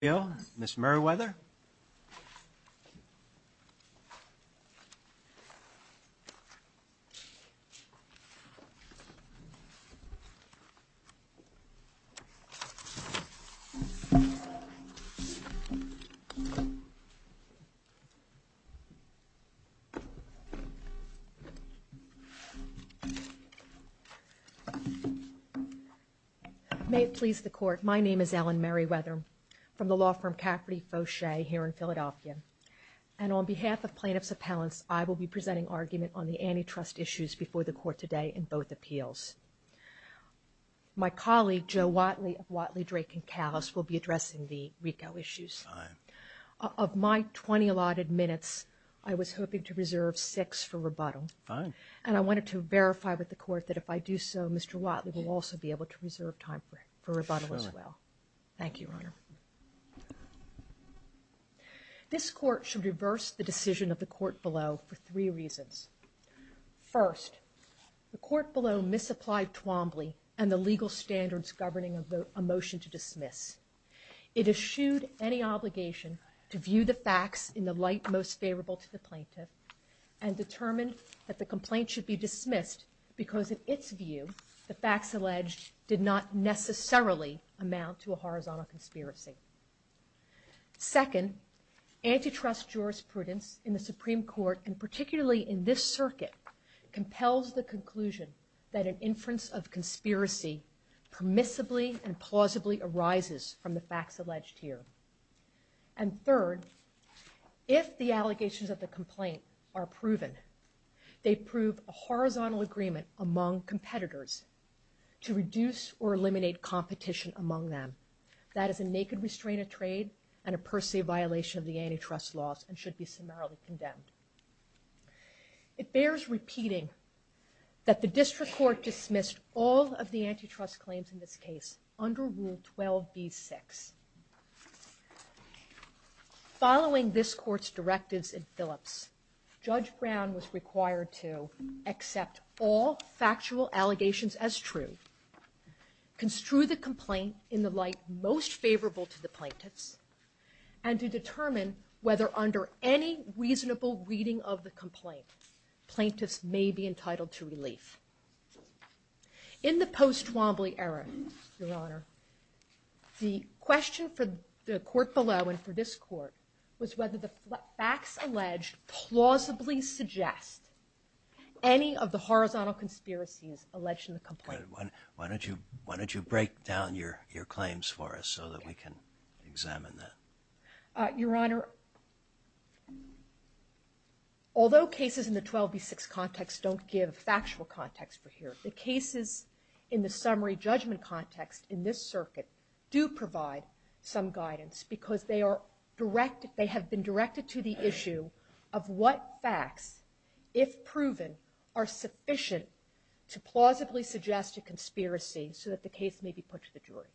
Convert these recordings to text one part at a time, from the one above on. Bill, Ms. Merriweather. May it please the Court, my name is Ellen Merriweather from the law firm Cafferty Fauchet here in Philadelphia, and on behalf of plaintiffs' appellants, I will be presenting argument on the antitrust issues before the Court today in both appeals. My colleague, Joe Watley of Watley, Drake & Kallis, will be addressing the RICO issues. Of my 20 allotted minutes, I was hoping to reserve 6 for rebuttal. And I wanted to verify with the Court that if I do so, Mr. Watley will also be able to reserve time for rebuttal as well. Thank you, Your Honor. This Court should reverse the decision of the Court below for three reasons. First, the Court below misapplied Twombly and the legal standards governing a motion to dismiss. It eschewed any obligation to view the facts in the light most favorable to the plaintiff and determined that the complaint should be dismissed because, in its view, the facts alleged did not necessarily amount to a horizontal conspiracy. Second, antitrust jurisprudence in the Supreme Court, and particularly in this circuit, compels the conclusion that an inference of conspiracy permissibly and plausibly arises from the facts alleged here. And third, if the allegations of the complaint are proven, they prove a horizontal agreement among competitors to reduce or eliminate competition among them. That is a naked restraint of trade and a per se violation of the antitrust laws and should be summarily condemned. It bears repeating that the District Court dismissed all of the antitrust claims in this case under Rule 12b-6. Following this Court's directives in Phillips, Judge Brown was required to accept all factual allegations as true, construe the complaint in the light most favorable to the plaintiffs, and to determine whether under any reasonable reading of the complaint, plaintiffs may be entitled to relief. In the post-Wombly era, Your Honor, the question for the Court below and for this Court was whether the facts alleged plausibly suggest any of the horizontal conspiracies alleged in the complaint. Why don't you break down your claims for us so that we can examine them? Your Honor, although cases in the 12b-6 context don't give factual context for hearings, the cases in the summary judgment context in this circuit do provide some guidance because they have been directed to the issue of what facts, if proven, are sufficient to plausibly suggest a conspiracy so that the case may be put to the jury.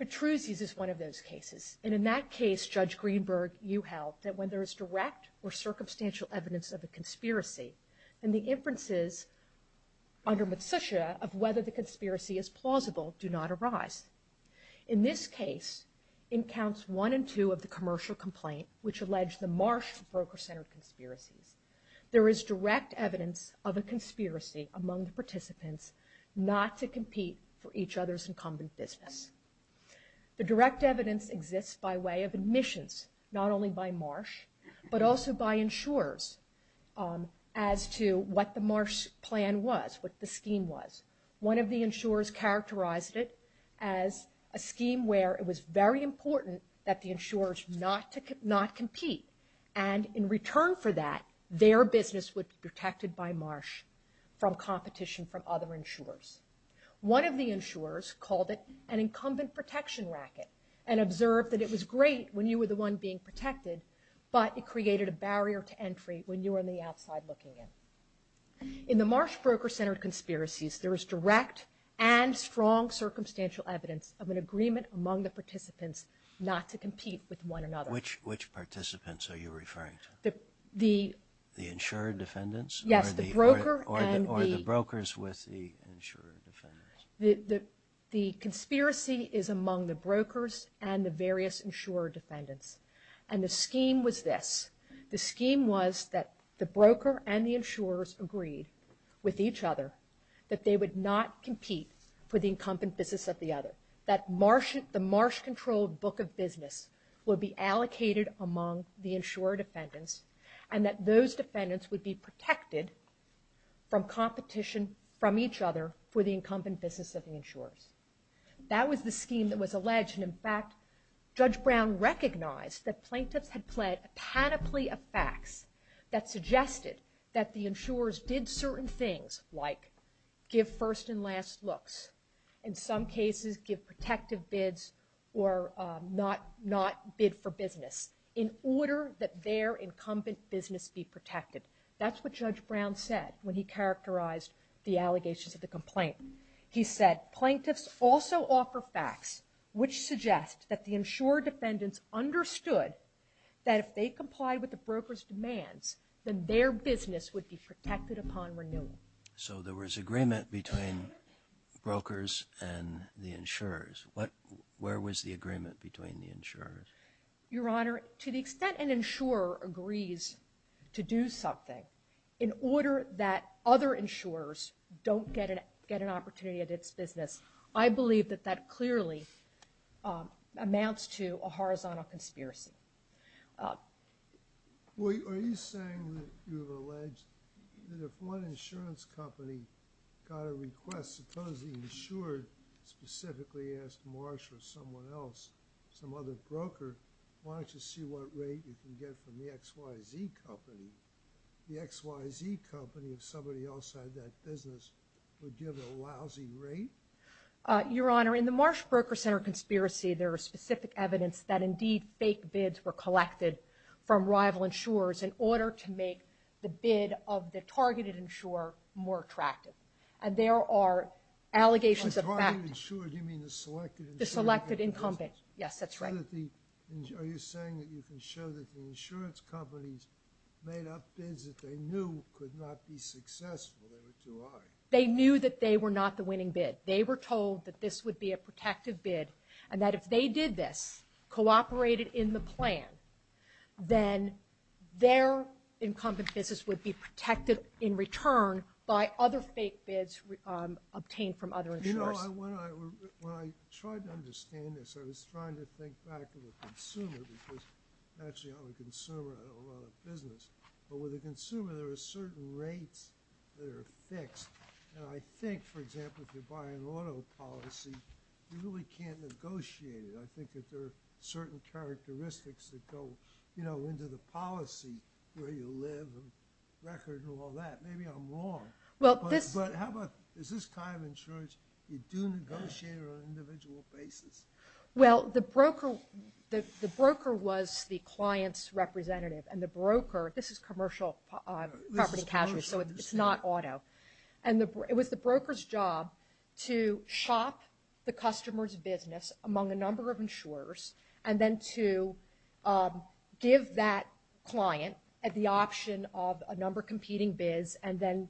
Petruzzi's is one of those cases. And in that case, Judge Greenberg, you held that when there is direct or circumstantial evidence of a conspiracy, and the inferences under Matsusha of whether the conspiracy is plausible do not arise. In this case, in Counts 1 and 2 of the commercial complaint, which alleged the Marsh Broker Center conspiracy, there is direct evidence of a conspiracy among the participants not to compete for each other's incumbent business. The direct evidence exists by way of admissions, not only by Marsh, but also by insurers as to what the Marsh plan was, what the scheme was. One of the insurers characterized it as a scheme where it was very important that the insurers not compete. And in return for that, their business was protected by Marsh from competition from other insurers. One of the insurers called it an incumbent protection racket, and observed that it was great when you were the one being protected, but it created a barrier to entry when you were on the outside looking in. In the Marsh Broker Center conspiracies, there is direct and strong circumstantial evidence of an agreement among the participants not to compete with one another. Which participants are you referring to? The... The insurer defendants? Yes, the broker and the... Or the brokers with the insurer defendants. The conspiracy is among the brokers and the various insurer defendants. And the scheme was this. The scheme was that the broker and the insurers agree with each other that they would not compete for the incumbent business of the other. That the Marsh-controlled book of business would be allocated among the insurer defendants, and that those defendants would be protected from competition from each other for the incumbent business of the insurers. That was the scheme that was alleged. And in fact, Judge Brown recognized that plaintiffs had pled a panoply of facts that suggested that the insurers bid certain things, like give first and last looks, in some cases give protective bids, or not bid for business, in order that their incumbent business be protected. That's what Judge Brown said when he characterized the allegations of the complaint. He said, plaintiffs also offer facts which suggest that the insurer defendants understood that if they complied with the broker's demands, then their business would be protected upon renewal. So there was agreement between brokers and the insurers. Where was the agreement between the insurers? Your Honor, to the extent an insurer agrees to do something, in order that other insurers don't get an opportunity of this business, I believe that that clearly amounts to a horizontal conspiracy. Well, are you saying that you've alleged that if one insurance company got a request, supposedly insured, specifically asked Marsh or someone else, some other broker, why don't you see what rate you can get from the XYZ company? The XYZ company, if somebody else had that business, would give a lousy rate? Your Honor, in the Marsh Broker Center conspiracy, there was specific evidence that, indeed, fake bids were collected from rival insurers in order to make the bid of the targeted insurer more attractive. And there are allegations of fact... The targeted insurer, do you mean the selected insurer? The selected incumbent, yes, that's right. Are you saying that you can show that the insurance companies made up bids that they knew could not be successful? They knew that they were not the winning bid. They were told that this would be a protective bid, and that if they did this, cooperated in the plan, then their incumbent business would be protected in return by other fake bids obtained from other insurers. When I tried to understand this, I was trying to think back to the consumer, because actually I'm a consumer in a lot of business. But with a consumer, there are certain rates that are fixed. And I think, for example, if you're buying auto policies, you really can't negotiate it. I think that there are certain characteristics that go into the policy, where you live and records and all that. Maybe I'm wrong. But is this kind of insurance, you do negotiate on an individual basis? Well, the broker was the client's representative. And the broker, this is commercial property cash, so it's not auto. And it was the broker's job to shop the customer's business among a number of insurers, and then to give that client the option of a number of competing bids, and then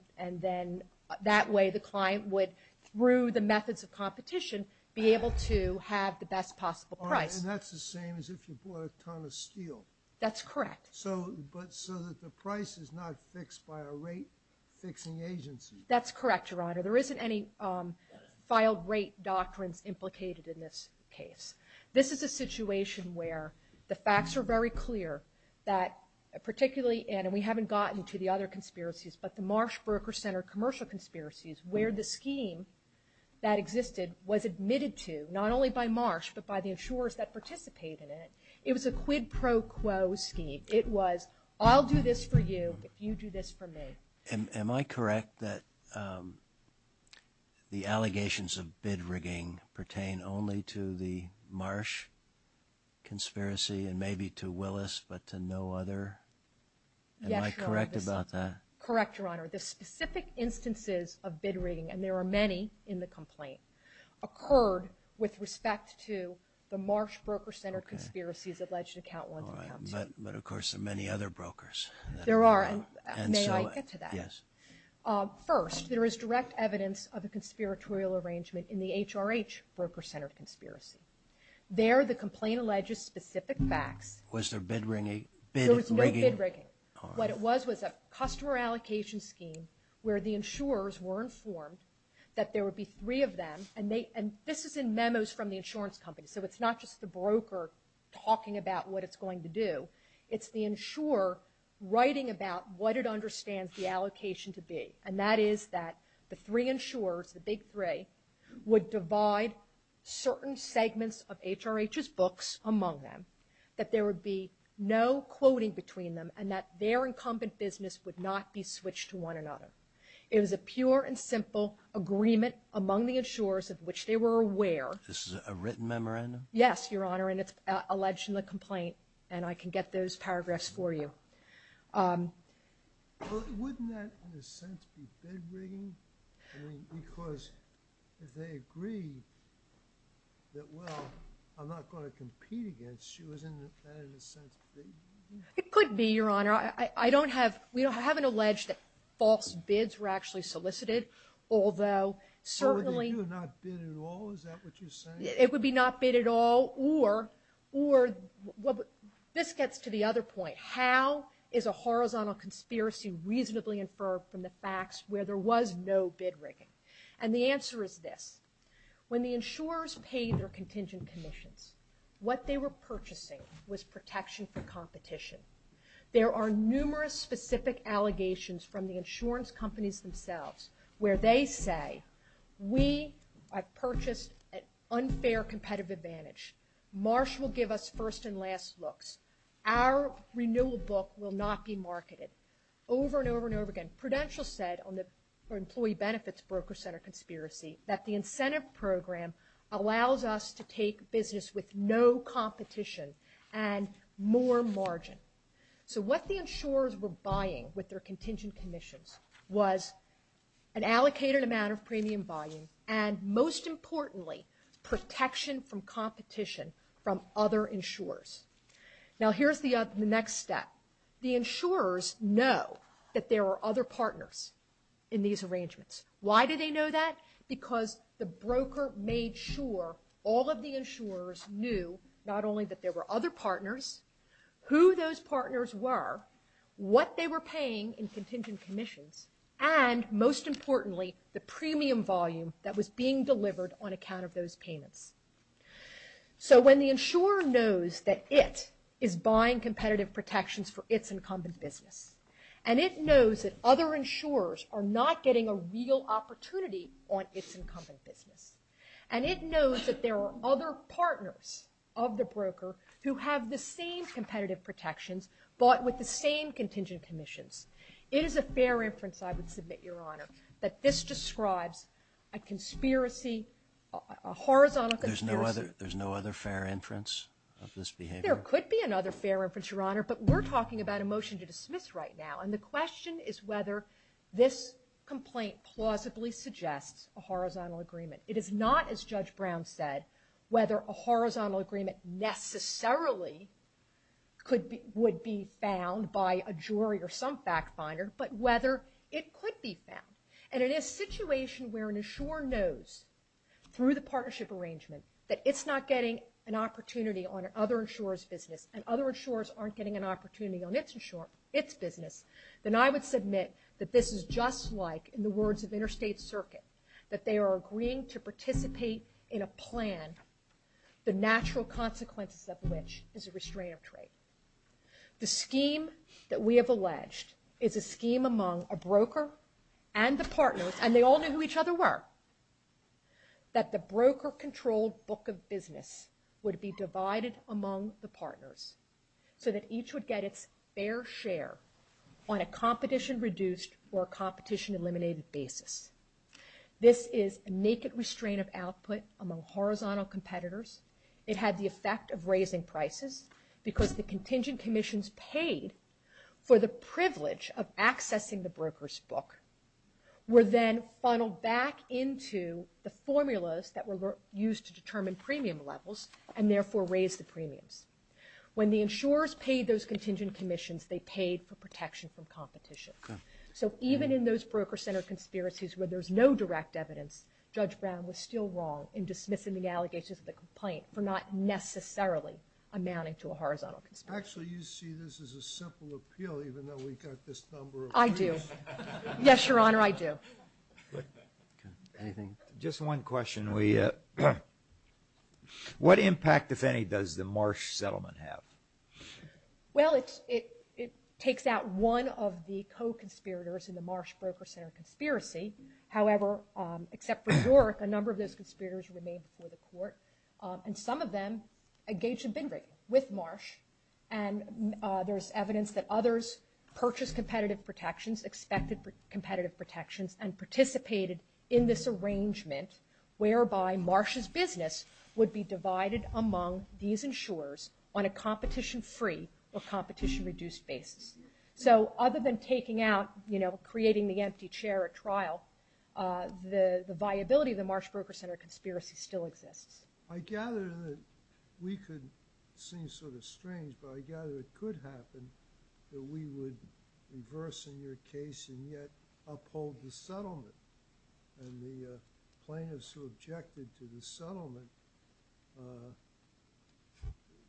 that way the client would, through the methods of competition, be able to have the best possible price. And that's the same as if you bought a ton of steel. That's correct. So that the price is not fixed by a rate-fixing agency. That's correct, Your Honor. There isn't any filed rate doctrine implicated in this case. This is a situation where the facts are very clear that particularly, and we haven't gotten to the other conspiracies, but the Marsh Broker Center commercial conspiracies, where the scheme that existed was admitted to not only by Marsh but by the insurers that participated in it. It was a quid pro quo scheme. It was, I'll do this for you if you do this for me. Am I correct that the allegations of bid rigging pertain only to the Marsh conspiracy and maybe to Willis, but to no other? Yes, Your Honor. Am I correct about that? Correct, Your Honor. The specific instances of bid rigging, and there are many in the complaint, occurred with respect to the Marsh Broker Center conspiracies alleged in Account One and Account Two. But, of course, there are many other brokers. There are, and may I get to that? Yes. First, there is direct evidence of a conspiratorial arrangement in the HRH Broker Center conspiracy. There, the complaint alleges specific facts. Was there bid rigging? There was no bid rigging. What it was was a customer allocation scheme where the insurers were informed that there would be three of them, and this is in memos from the insurance companies, so it's not just the broker talking about what it's going to do. It's the insurer writing about what it understands the allocation to be, and that is that the three insurers, the big three, would divide certain segments of HRH's books among them, that there would be no quoting between them, and that their incumbent business would not be switched to one another. It was a pure and simple agreement among the insurers of which they were aware. This is a written memorandum? Yes, Your Honor, and it's alleged in the complaint, and I can get those paragraphs for you. Wouldn't that, in a sense, be bid rigging? Because they agreed that, well, I'm not going to compete against you. Isn't that, in a sense, bid rigging? It could be, Your Honor. I don't have – we haven't alleged that false bids were actually solicited, although certainly – So it would be not bid at all? Is that what you're saying? It would be not bid at all, or – this gets to the other point. How is a horizontal conspiracy reasonably inferred from the facts where there was no bid rigging? And the answer is this. When the insurers paid their contingent commissions, what they were purchasing was protection for competition. There are numerous specific allegations from the insurance companies themselves where they say, we have purchased an unfair competitive advantage. Marsh will give us first and last looks. Our renewal book will not be marketed over and over and over again. Prudential said on the employee benefits broker center conspiracy that the incentive program allows us to take business with no competition and more margin. So what the insurers were buying with their contingent commissions was an allocated amount of premium volume and, most importantly, protection from competition from other insurers. Now here's the next step. The insurers know that there are other partners in these arrangements. Why do they know that? Because the broker made sure all of the insurers knew not only that there were other partners, who those partners were, what they were paying in contingent commissions, and, most importantly, the premium volume that was being delivered on account of those payments. So when the insurer knows that it is buying competitive protections for its incumbent business, and it knows that other insurers are not getting a real opportunity on its incumbent business, and it knows that there are other partners of the broker who have the same competitive protections but with the same contingent commissions, it is a fair inference, I would submit, Your Honor, that this describes a conspiracy, a horizontal conspiracy. There's no other fair inference of this behavior? There could be another fair inference, Your Honor, but we're talking about a motion to dismiss right now, and the question is whether this complaint plausibly suggests a horizontal agreement. It is not, as Judge Brown said, whether a horizontal agreement necessarily would be found by a jury or some fact finder, but whether it could be found. And in a situation where an insurer knows, through the partnership arrangement, that it's not getting an opportunity on other insurers' business, and other insurers aren't getting an opportunity on its business, then I would submit that this is just like, in the words of Interstate Circuit, that they are agreeing to participate in a plan, the natural consequences of which is a restraining order. The scheme that we have alleged is a scheme among a broker and the partners, and they all knew who each other were, that the broker-controlled book of business would be divided among the partners so that each would get its fair share on a competition-reduced or competition-eliminated basis. This is a naked restraint of output among horizontal competitors. It had the effect of raising prices because the contingent commissions paid for the privilege of accessing the broker's book were then funneled back into the formulas that were used to determine premium levels and therefore raised the premium. When the insurers paid those contingent commissions, they paid for protection from competition. So even in those broker-centered conspiracies where there's no direct evidence, Judge Brown was still wrong in dismissing the allegations of the complaint for not necessarily amounting to a horizontal conspiracy. Actually, you see this as a simple appeal even though we've got this number of... I do. Yes, Your Honor, I do. Anything? Just one question. What impact, if any, does the Marsh settlement have? Well, it takes out one of the co-conspirators in the Marsh broker-centered conspiracy. However, except for York, a number of those conspirators remained before the court. And some of them engaged in bid-rate with Marsh. And there's evidence that others purchased competitive protections, expected competitive protections, and participated in this arrangement whereby Marsh's business would be divided among these insurers on a competition-free or competition-reduced basis. So other than taking out, you know, creating the empty chair at trial, the viability of the Marsh broker-centered conspiracy still exists. I gather that we could seem sort of strange, but I gather it could happen that we would reverse a near case and yet uphold the settlement. And the plaintiffs who objected to the settlement,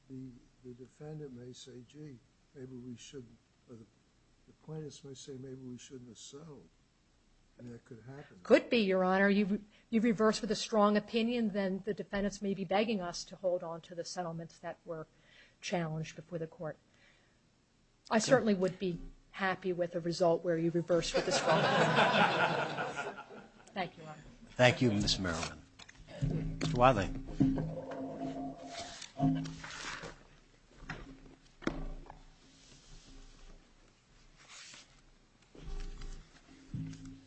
the defendant may say, gee, maybe we shouldn't. The plaintiffs may say maybe we shouldn't have settled. And it could happen. Could be, Your Honor. You reverse with a strong opinion, then the defendants may be begging us to hold on to the settlements that were challenged before the court. I certainly would be happy with a result where you reverse with a strong opinion. Thank you, Your Honor. Thank you, Ms. Merriman. Mr. Wiley.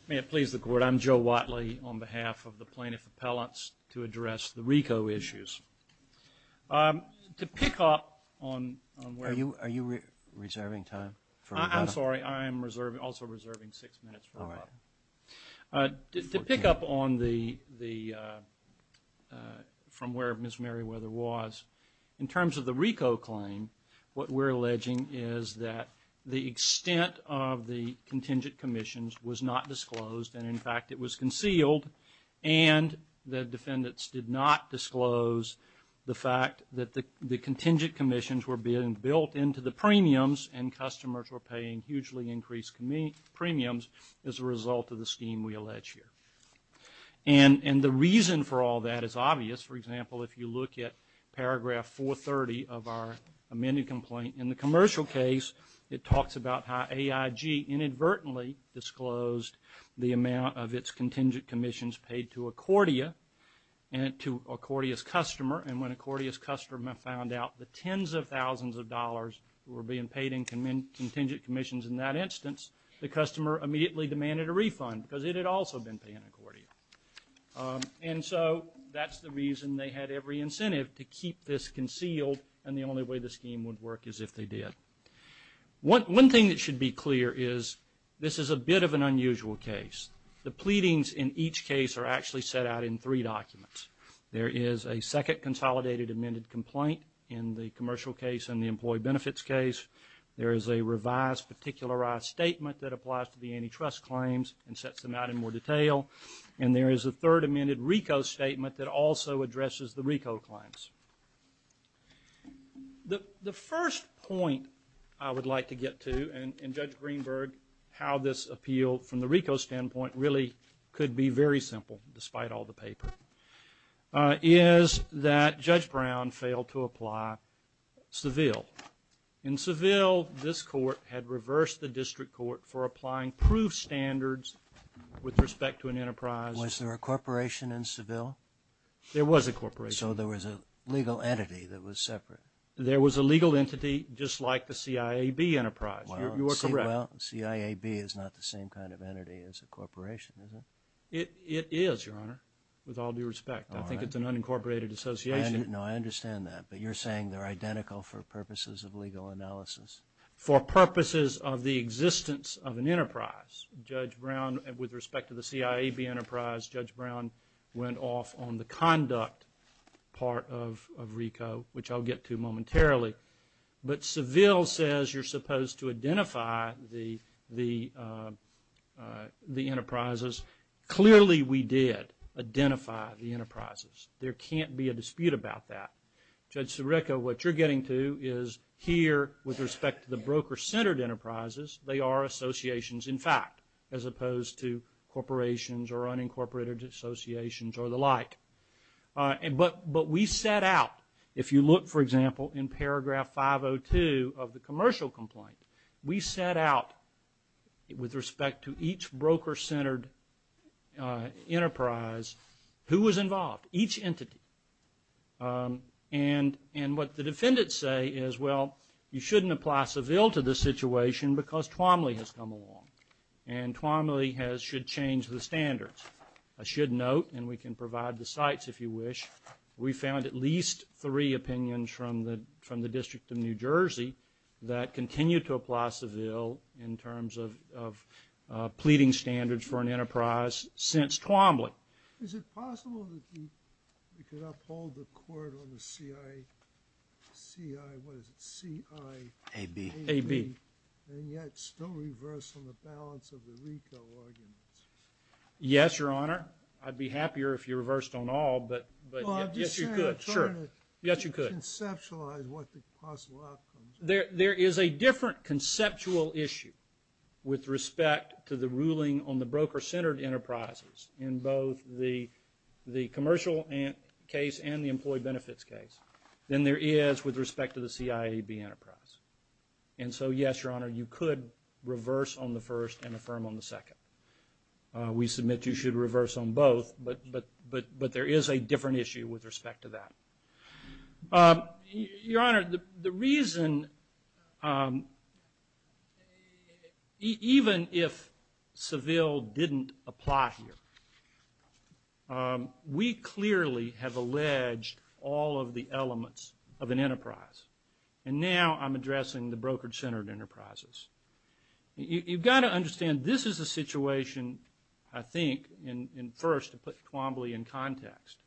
May it please the Court. I'm Joe Wiley on behalf of the plaintiff appellants to address the RICO issues. To pick up on where Ms. Merriman was, in terms of the RICO claim, what we're alleging is that the extent of the contingent commissions was not disclosed, and, in fact, it was concealed, and the defendants did not disclose the fact that the contingent commissions were being built into the premiums and customers were paying hugely increased premiums as a result of the scheme we allege here. And the reason for all that is obvious. For example, if you look at paragraph 430 of our amended complaint, in the commercial case it talks about how AIG inadvertently disclosed the amount of its contingent commissions paid to Accordia, to Accordia's customer, and when Accordia's customer found out the tens of thousands of dollars were being paid in contingent commissions in that instance, the customer immediately demanded a refund because it had also been paying Accordia. And so that's the reason they had every incentive to keep this concealed, and the only way the scheme would work is if they did. One thing that should be clear is this is a bit of an unusual case. The pleadings in each case are actually set out in three documents. There is a second consolidated amended complaint in the commercial case and the employee benefits case. There is a revised particularized statement that applies to the antitrust claims and sets them out in more detail. And there is a third amended RICO statement that also addresses the RICO claims. The first point I would like to get to, and Judge Greenberg, how this appealed from the RICO standpoint really could be very simple, despite all the paper, is that Judge Brown failed to apply Seville. In Seville, this court had reversed the district court for applying proof standards with respect to an enterprise. Was there a corporation in Seville? There was a corporation. So there was a legal entity that was separate. There was a legal entity just like the CIAB enterprise. Well, CIAB is not the same kind of entity as a corporation, is it? It is, Your Honor, with all due respect. I think it's an unincorporated association. No, I understand that. But you're saying they're identical for purposes of legal analysis. For purposes of the existence of an enterprise, Judge Brown, with respect to the CIAB enterprise, Judge Brown went off on the conduct part of RICO, which I'll get to momentarily. But Seville says you're supposed to identify the enterprises. Clearly we did identify the enterprises. There can't be a dispute about that. Judge Sirica, what you're getting to is here, with respect to the broker-centered enterprises, they are associations, in fact, as opposed to corporations or unincorporated associations or the like. But we set out, if you look, for example, in paragraph 502 of the commercial complaint, we set out, with respect to each broker-centered enterprise, who was involved, each entity. And what the defendants say is, well, you shouldn't apply Seville to this situation because Twomley has come along, and Twomley should change the standards. I should note, and we can provide the sites if you wish, we found at least three opinions from the District of New Jersey that continue to apply Seville in terms of pleading standards for an enterprise since Twomley. Is it possible that we could uphold the court on the C-I-A-B and yet still reverse on the balance of the retail arguments? Yes, Your Honor. I'd be happier if you reversed on all, but yes, you could. Conceptualize what the possible outcomes are. There is a different conceptual issue with respect to the ruling on the broker-centered enterprises in both the commercial case and the employee benefits case than there is with respect to the C-I-A-B enterprise. And so, yes, Your Honor, you could reverse on the first and affirm on the second. We submit you should reverse on both, but there is a different issue with respect to that. Your Honor, the reason, even if Seville didn't apply here, we clearly have alleged all of the elements of an enterprise. And now I'm addressing the broker-centered enterprises. You've got to understand this is a situation, I think, and first to put Twomley in context.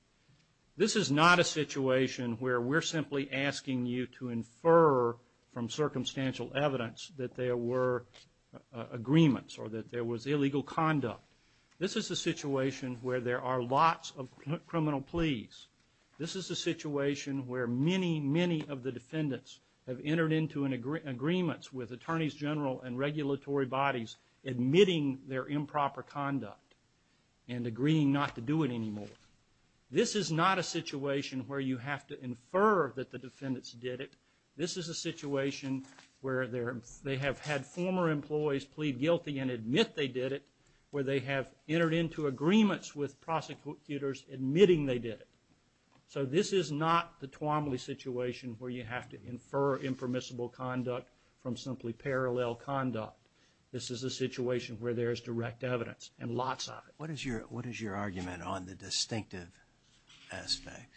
This is not a situation where we're simply asking you to infer from circumstantial evidence that there were agreements or that there was illegal conduct. This is a situation where there are lots of criminal pleas. This is a situation where many, many of the defendants have entered into agreements with attorneys general and regulatory bodies admitting their improper conduct and agreeing not to do it anymore. This is not a situation where you have to infer that the defendants did it. This is a situation where they have had former employees plead guilty and admit they did it, where they have entered into agreements with prosecutors admitting they did it. So this is not the Twomley situation where you have to infer impermissible conduct from simply parallel conduct. This is a situation where there is direct evidence and lots of it. What is your argument on the distinctive aspect?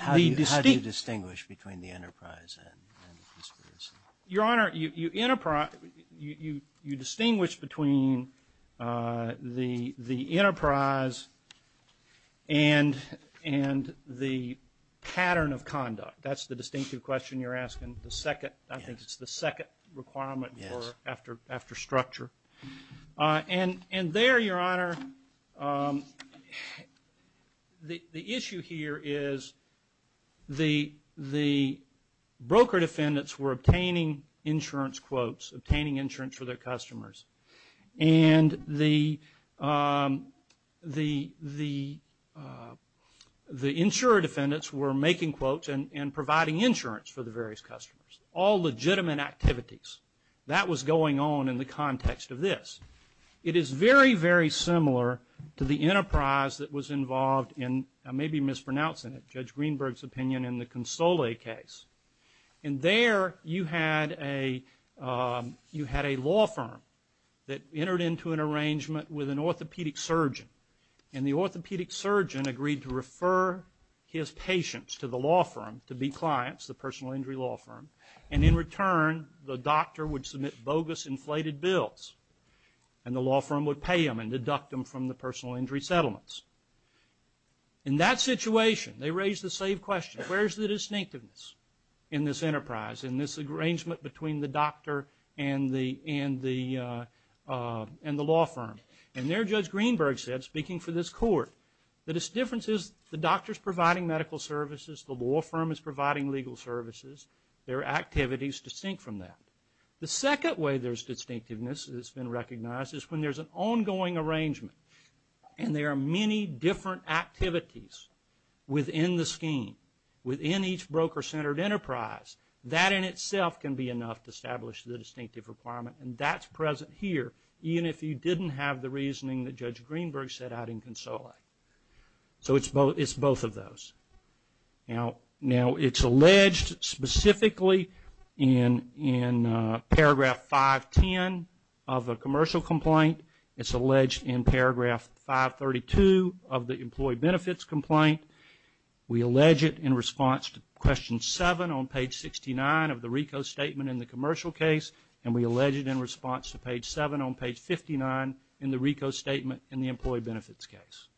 How do you distinguish between the enterprise and the business? Your Honor, you distinguish between the enterprise and the pattern of conduct. That's the distinctive question you're asking. I think it's the second requirement after structure. And there, Your Honor, the issue here is the broker defendants were obtaining insurance quotes, obtaining insurance for their customers, and the insurer defendants were making quotes and providing insurance for the various customers, all legitimate activities. That was going on in the context of this. It is very, very similar to the enterprise that was involved in, I may be mispronouncing it, Judge Greenberg's opinion in the Console case. And there you had a law firm that entered into an arrangement with an orthopedic surgeon, and the orthopedic surgeon agreed to refer his patients to the law firm to be clients, the personal injury law firm. And in return, the doctor would submit bogus inflated bills, and the law firm would pay them and deduct them from the personal injury settlements. In that situation, they raised the same question. Where is the distinctiveness in this enterprise, in this arrangement between the doctor and the law firm? And there Judge Greenberg said, speaking for this court, that its difference is the doctor is providing medical services, the law firm is providing legal services. Their activity is distinct from that. The second way there's distinctiveness that's been recognized is when there's an ongoing arrangement, and there are many different activities within the scheme, within each broker-centered enterprise. That in itself can be enough to establish the distinctive requirement, and that's present here. Even if you didn't have the reasoning that Judge Greenberg set out in Console. So it's both of those. Now, it's alleged specifically in paragraph 510 of a commercial complaint. It's alleged in paragraph 532 of the employee benefits complaint. We allege it in response to question 7 on page 69 of the RICO statement in the commercial case, and we allege it in response to page 7 on page 59 in the RICO statement in the employee benefits case.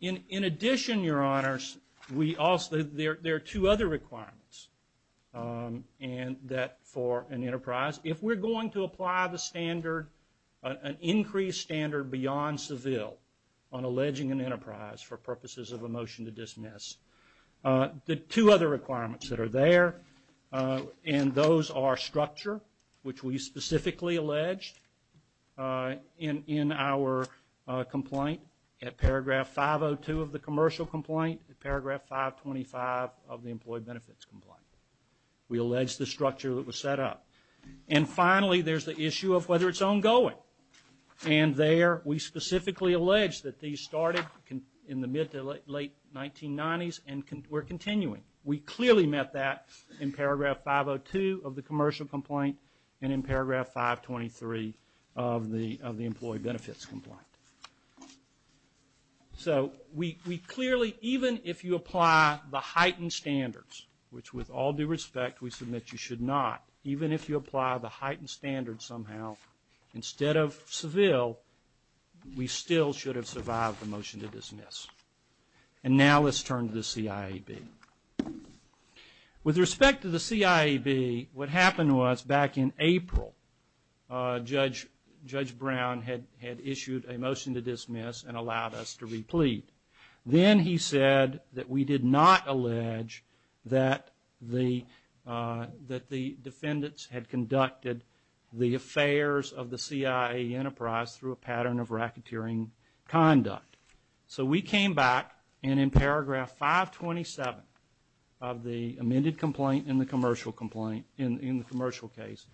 In addition, Your Honors, there are two other requirements for an enterprise. If we're going to apply an increased standard beyond Seville on alleging an enterprise for purposes of a motion to dismiss, there are two other requirements that are there, and those are structure, which we specifically allege in our complaint, in paragraph 502 of the commercial complaint, and paragraph 525 of the employee benefits complaint. We allege the structure that was set up. And finally, there's the issue of whether it's ongoing. And there, we specifically allege that these started in the mid to late 1990s and were continuing. We clearly met that in paragraph 502 of the commercial complaint and in paragraph 523 of the employee benefits complaint. So we clearly, even if you apply the heightened standards, which with all due respect, we submit you should not, even if you apply the heightened standards somehow, instead of Seville, we still should have survived the motion to dismiss. And now let's turn to the CIEB. With respect to the CIEB, what happened was back in April, Judge Brown had issued a motion to dismiss and allowed us to replete. Then he said that we did not allege that the defendants had conducted the affairs of the CIA enterprise through a pattern of racketeering conduct. So we came back, and in paragraph 527 of the amended complaint and the commercial complaint, in the commercial case,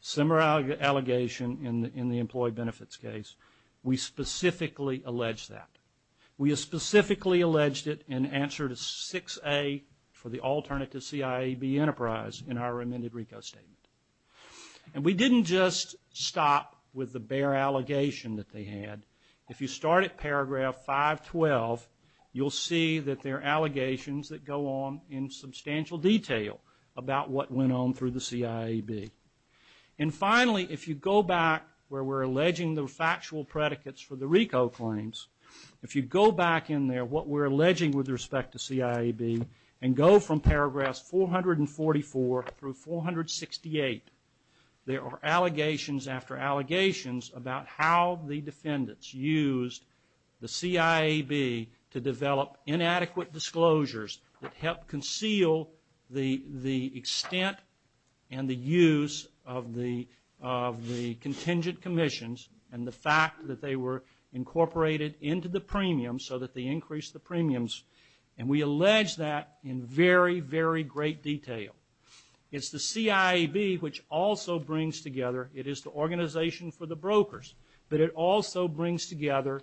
similar allegation in the employee benefits case, we specifically allege that. We have specifically alleged it in answer to 6A for the alternate to CIEB enterprise in our amended RICO statement. And we didn't just stop with the bare allegation that they had. If you start at paragraph 512, you'll see that there are allegations that go on in substantial detail about what went on through the CIEB. And finally, if you go back where we're alleging the factual predicates for the RICO claims, if you go back in there, what we're alleging with respect to CIEB, and go from paragraph 444 through 468, there are allegations after allegations about how the defendants used the CIEB to develop inadequate disclosures that helped conceal the extent and the use of the contingent commissions and the fact that they were incorporated into the premiums so that they increased the premiums. And we allege that in very, very great detail. It's the CIEB which also brings together, it is the organization for the brokers, but it also brings together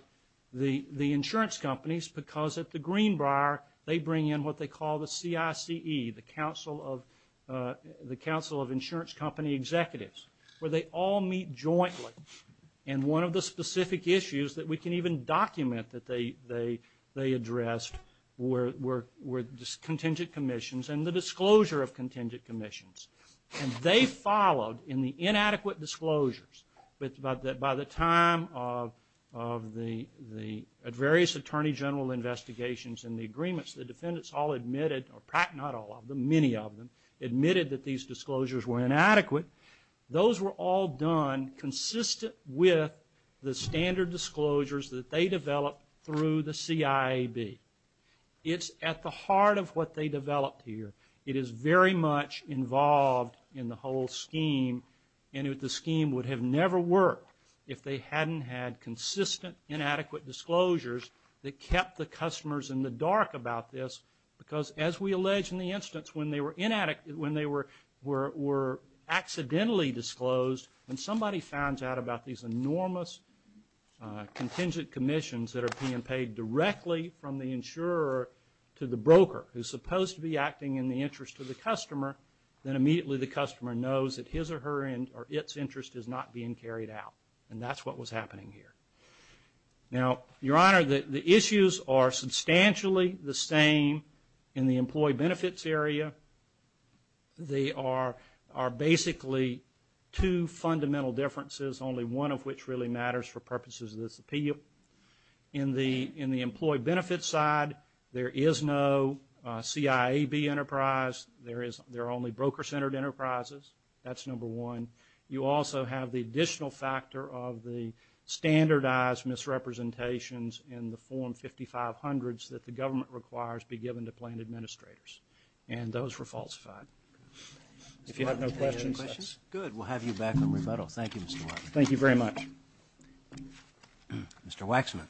the insurance companies because at the Greenbrier, they bring in what they call the CICE, the Council of Insurance Company Executives, where they all meet jointly. And one of the specific issues that we can even document that they address were contingent commissions and the disclosure of contingent commissions. And they followed in the inadequate disclosures, but by the time of the various attorney general investigations and the agreements, the defendants all admitted, or not all of them, many of them, admitted that these disclosures were inadequate. Those were all done consistent with the standard disclosures that they developed through the CIEB. It's at the heart of what they developed here. It is very much involved in the whole scheme and if the scheme would have never worked if they hadn't had consistent inadequate disclosures that kept the customers in the dark about this because as we allege in the instance when they were inadequate, when they were accidentally disclosed, when somebody found out about these enormous contingent commissions that are being paid directly from the insurer to the broker who's supposed to be acting in the interest of the customer, then immediately the customer knows that his or her or its interest is not being carried out. And that's what was happening here. Now, Your Honor, the issues are substantially the same in the employee benefits area. They are basically two fundamental differences, only one of which really matters for purposes of this appeal. In the employee benefits side, there is no CIEB enterprise. There are only broker-centered enterprises. That's number one. You also have the additional factor of the standardized misrepresentations in the form 5500s that the government requires to be given to plan administrators. And those were falsified. If you have no questions, that's good. We'll have you back on rebuttal. Thank you, Mr. Clark. Thank you very much. Mr. Waxman.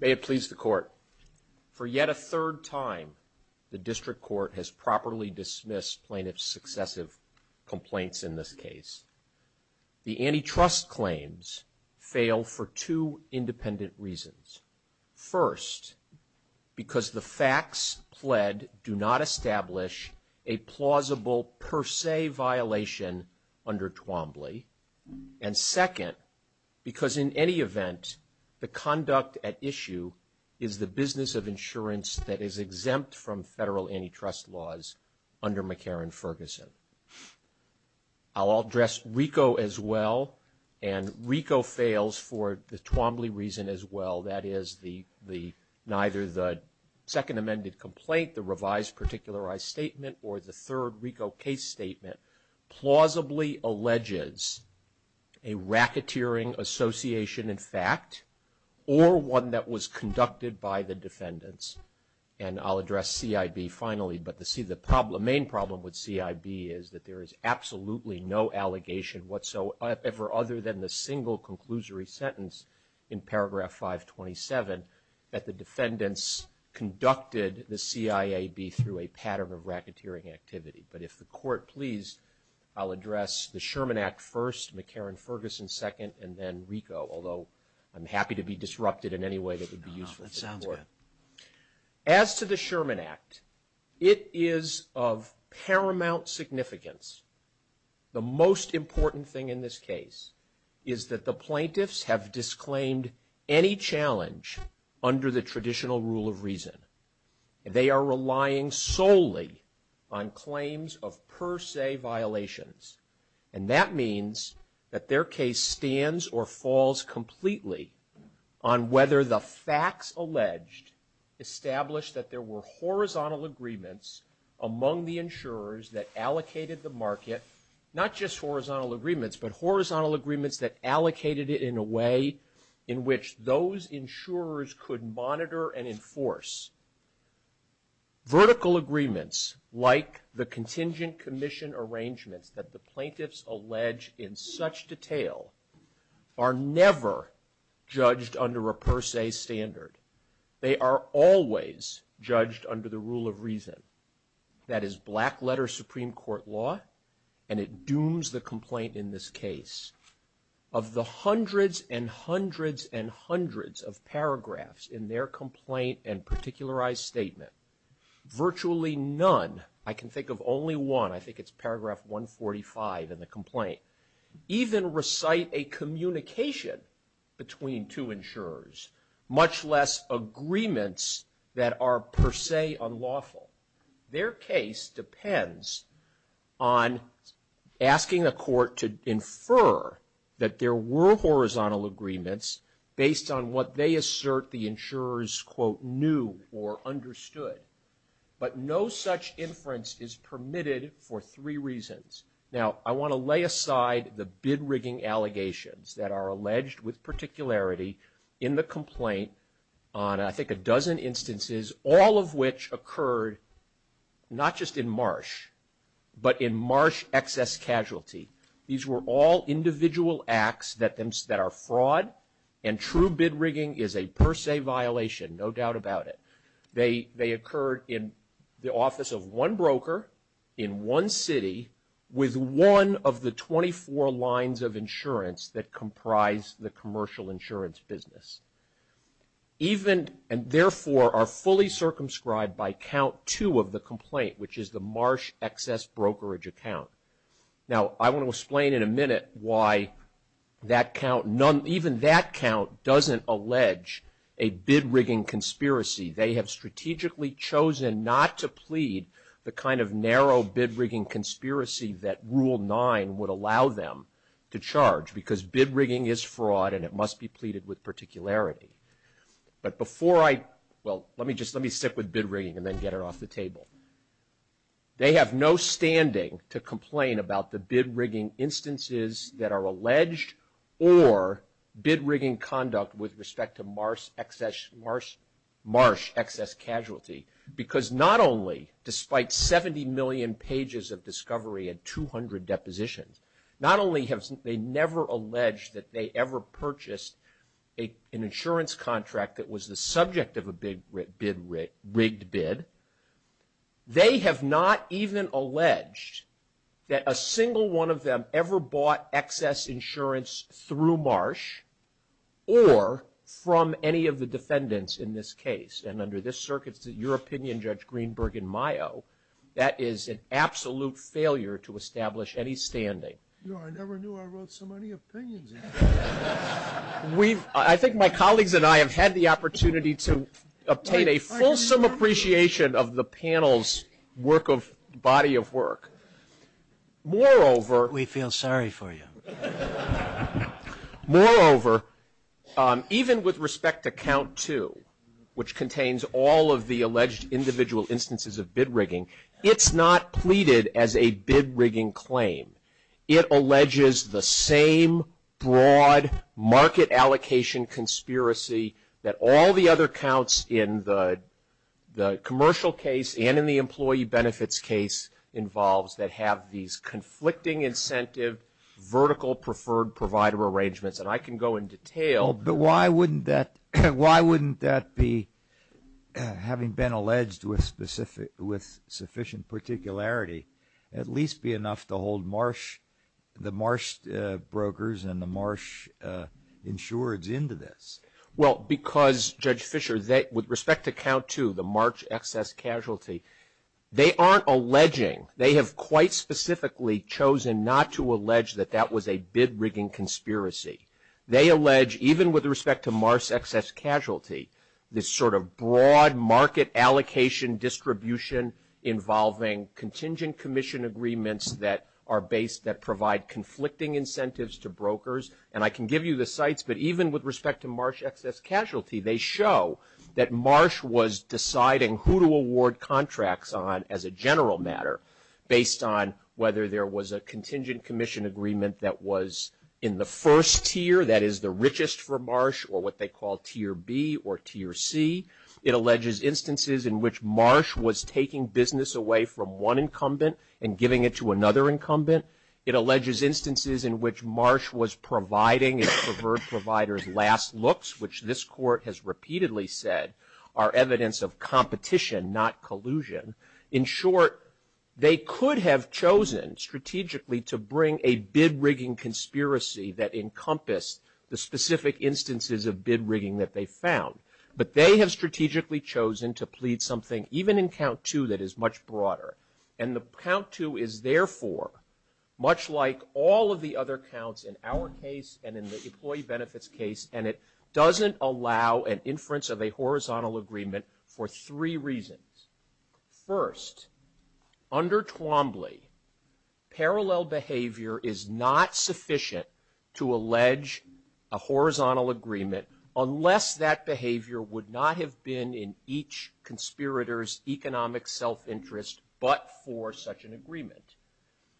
May it please the Court. For yet a third time, the District Court has properly dismissed plaintiff's successive complaints in this case. The antitrust claims fail for two independent reasons. First, because the facts pled do not establish a plausible per se violation under Twombly. And second, because in any event, the conduct at issue is the business of insurance that is exempt from federal antitrust laws under McCarran-Ferguson. I'll address RICO as well. And RICO fails for the Twombly reason as well, that is neither the second amended complaint, the revised particularized statement, or the third RICO case statement plausibly alleges a racketeering association in fact or one that was conducted by the defendants. And I'll address CIB finally. But the main problem with CIB is that there is absolutely no allegation whatsoever other than the single conclusory sentence in paragraph 527 that the defendants conducted the CIAB through a pattern of racketeering activity. But if the Court please, I'll address the Sherman Act first, McCarran-Ferguson second, and then RICO, although I'm happy to be disrupted in any way that would be useful. As to the Sherman Act, it is of paramount significance. The most important thing in this case is that the plaintiffs have disclaimed any challenge under the traditional rule of reason. They are relying solely on claims of per se violations. And that means that their case stands or falls completely on whether the facts alleged established that there were horizontal agreements among the insurers that allocated the market, not just horizontal agreements, but horizontal agreements that allocated it in a way in which those insurers could monitor and enforce. Vertical agreements like the contingent commission arrangement that the plaintiffs allege in such detail are never judged under a per se standard. They are always judged under the rule of reason. That is black-letter Supreme Court law, and it dooms the complaint in this case. Of the hundreds and hundreds and hundreds of paragraphs in their complaint and particularized statement, virtually none, I can think of only one, I think it's paragraph 145 in the complaint, even recite a communication between two insurers, much less agreements that are per se unlawful. Their case depends on asking a court to infer that there were horizontal agreements based on what they assert the insurers, quote, knew or understood. But no such inference is permitted for three reasons. Now, I want to lay aside the bid-rigging allegations that are alleged with particularity in the complaint on I think a dozen instances, all of which occurred not just in Marsh, but in Marsh excess casualty. These were all individual acts that are fraud, and true bid-rigging is a per se violation, no doubt about it. They occurred in the office of one broker in one city with one of the 24 lines of insurance that comprise the commercial insurance business, and therefore are fully circumscribed by count two of the complaint, which is the Marsh excess brokerage account. Now, I want to explain in a minute why that count, even that count doesn't allege a bid-rigging conspiracy. They have strategically chosen not to plead the kind of narrow bid-rigging conspiracy that Rule 9 would allow them to charge, because bid-rigging is fraud and it must be pleaded with particularity. But before I, well, let me just, let me stick with bid-rigging and then get it off the table. They have no standing to complain about the bid-rigging instances that are alleged or bid-rigging conduct with respect to Marsh excess casualty, because not only, despite 70 million pages of discovery and 200 depositions, not only have they never alleged that they ever purchased an insurance contract that was the subject of a big rigged bid, they have not even alleged that a single one of them ever bought excess insurance through Marsh or from any of the defendants in this case. And under this circuit, your opinion, Judge Greenberg and Mayo, that is an absolute failure to establish any standing. No, I never knew I wrote so many opinions. I think my colleagues and I have had the opportunity to obtain a fulsome appreciation of the panel's body of work. Moreover, we feel sorry for you. Moreover, even with respect to Count 2, which contains all of the alleged individual instances of bid-rigging, it's not pleaded as a bid-rigging claim. It alleges the same broad market allocation conspiracy that all the other counts in the commercial case and in the employee benefits case involves, that have these conflicting incentive vertical preferred provider arrangements. And I can go in detail. But why wouldn't that be, having been alleged with sufficient particularity, at least be enough to hold the Marsh brokers and the Marsh insureds into this? Well, because, Judge Fischer, with respect to Count 2, the Marsh excess casualty, they aren't alleging, they have quite specifically chosen not to allege that that was a bid-rigging conspiracy. They allege, even with respect to Marsh excess casualty, this sort of broad market allocation distribution involving contingent commission agreements that provide conflicting incentives to brokers. And I can give you the sites, but even with respect to Marsh excess casualty, they show that Marsh was deciding who to award contracts on as a general matter, based on whether there was a contingent commission agreement that was in the first tier, that is the richest for Marsh, or what they call Tier B or Tier C. It alleges instances in which Marsh was taking business away from one incumbent and giving it to another incumbent. It alleges instances in which Marsh was providing its preferred provider's last looks, which this Court has repeatedly said are evidence of competition, not collusion. In short, they could have chosen strategically to bring a bid-rigging conspiracy that encompassed the specific instances of bid-rigging that they found. But they have strategically chosen to plead something, even in Count 2, that is much broader. And Count 2 is, therefore, much like all of the other counts in our case and in the employee benefits case, and it doesn't allow an inference of a horizontal agreement for three reasons. First, under Twombly, parallel behavior is not sufficient to allege a horizontal agreement, unless that behavior would not have been in each conspirator's economic self-interest but for such an agreement.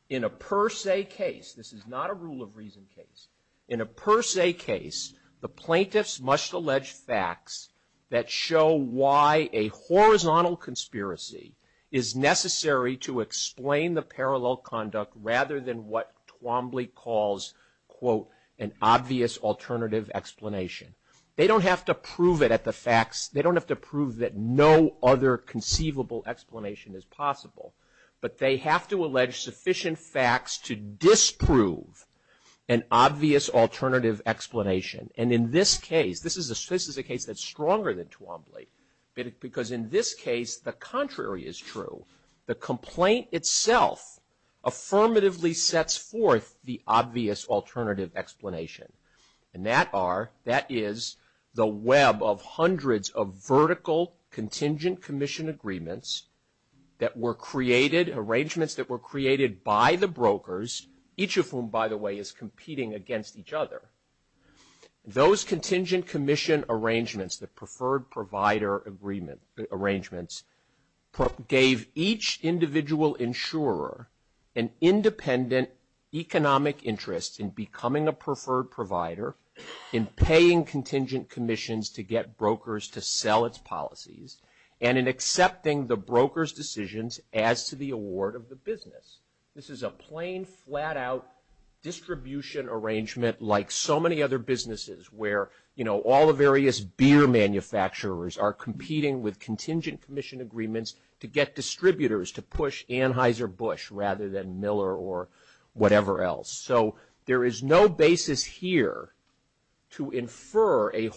In a per se case, this is not a rule of reason case, in a per se case, the plaintiffs must allege facts that show why a horizontal conspiracy is necessary to explain the parallel conduct rather than what Twombly calls, quote, an obvious alternative explanation. They don't have to prove it at the facts. They don't have to prove that no other conceivable explanation is possible. But they have to allege sufficient facts to disprove an obvious alternative explanation. And in this case, this is a case that's stronger than Twombly, because in this case, the contrary is true. The complaint itself affirmatively sets forth the obvious alternative explanation. And that is the web of hundreds of vertical contingent commission agreements that were created, arrangements that were created by the brokers, each of whom, by the way, is competing against each other. Those contingent commission arrangements, the preferred provider agreements, gave each individual insurer an independent economic interest in becoming a preferred provider, in paying contingent commissions to get brokers to sell its policies, and in accepting the broker's decisions as to the award of the business. This is a plain, flat-out distribution arrangement like so many other businesses where, you know, all the various beer manufacturers are competing with contingent commission agreements to get distributors to push Anheuser-Busch rather than Miller or whatever else. So there is no basis here to infer the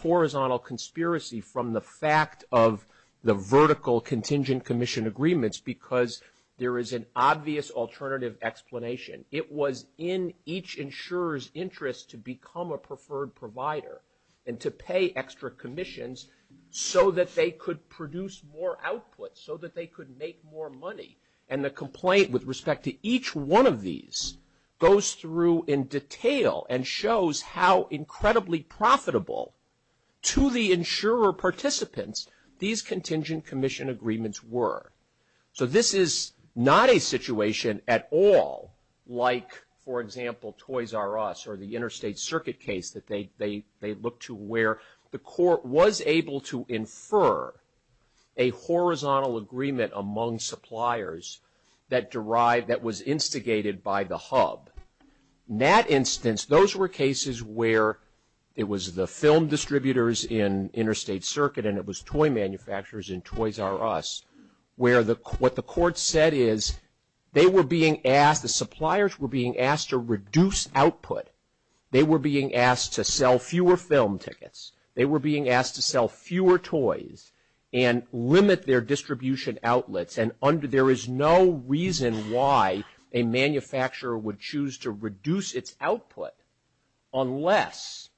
horizontal conspiracy from the fact of the vertical contingent commission agreements because there is an obvious alternative explanation. It was in each insurer's interest to become a preferred provider and to pay extra commissions so that they could produce more output, so that they could make more money. And the complaint with respect to each one of these goes through in detail and shows how incredibly profitable, to the insurer participants, these contingent commission agreements were. So this is not a situation at all like, for example, Toys R Us or the Interstate Circuit case that they look to where the court was able to infer a horizontal agreement among suppliers that was instigated by the hub. In that instance, those were cases where it was the film distributors in Interstate Circuit and it was toy manufacturers in Toys R Us where what the court said is they were being asked, the suppliers were being asked to reduce output. They were being asked to sell fewer film tickets. They were being asked to sell fewer toys and limit their distribution outlets. And there is no reason why a manufacturer would choose to reduce its output unless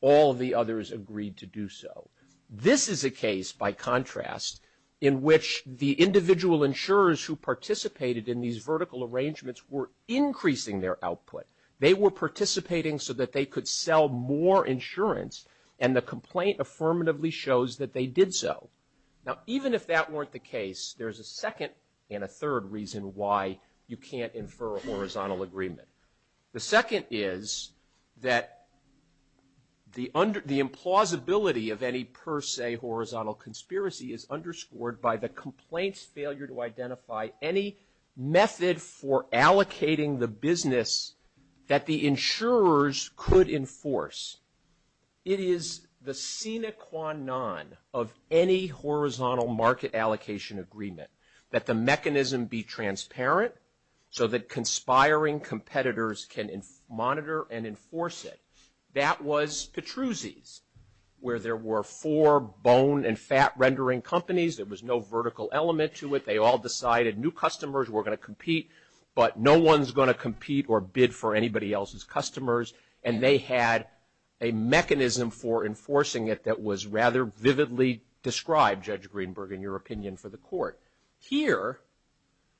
all the others agreed to do so. This is a case, by contrast, in which the individual insurers who participated in these vertical arrangements were increasing their output. They were participating so that they could sell more insurance, and the complaint affirmatively shows that they did so. Now, even if that weren't the case, there's a second and a third reason why you can't infer a horizontal agreement. The second is that the implausibility of any per se horizontal conspiracy is underscored by the complaint's failure to identify any method for allocating the business that the insurers could enforce. It is the sine qua non of any horizontal market allocation agreement that the mechanism be transparent so that conspiring competitors can monitor and enforce it. That was Petruzzi's where there were four bone and fat rendering companies. There was no vertical element to it. They all decided new customers were going to compete, but no one's going to compete or bid for anybody else's customers, and they had a mechanism for enforcing it that was rather vividly described, Judge Greenberg, in your opinion, for the court. Here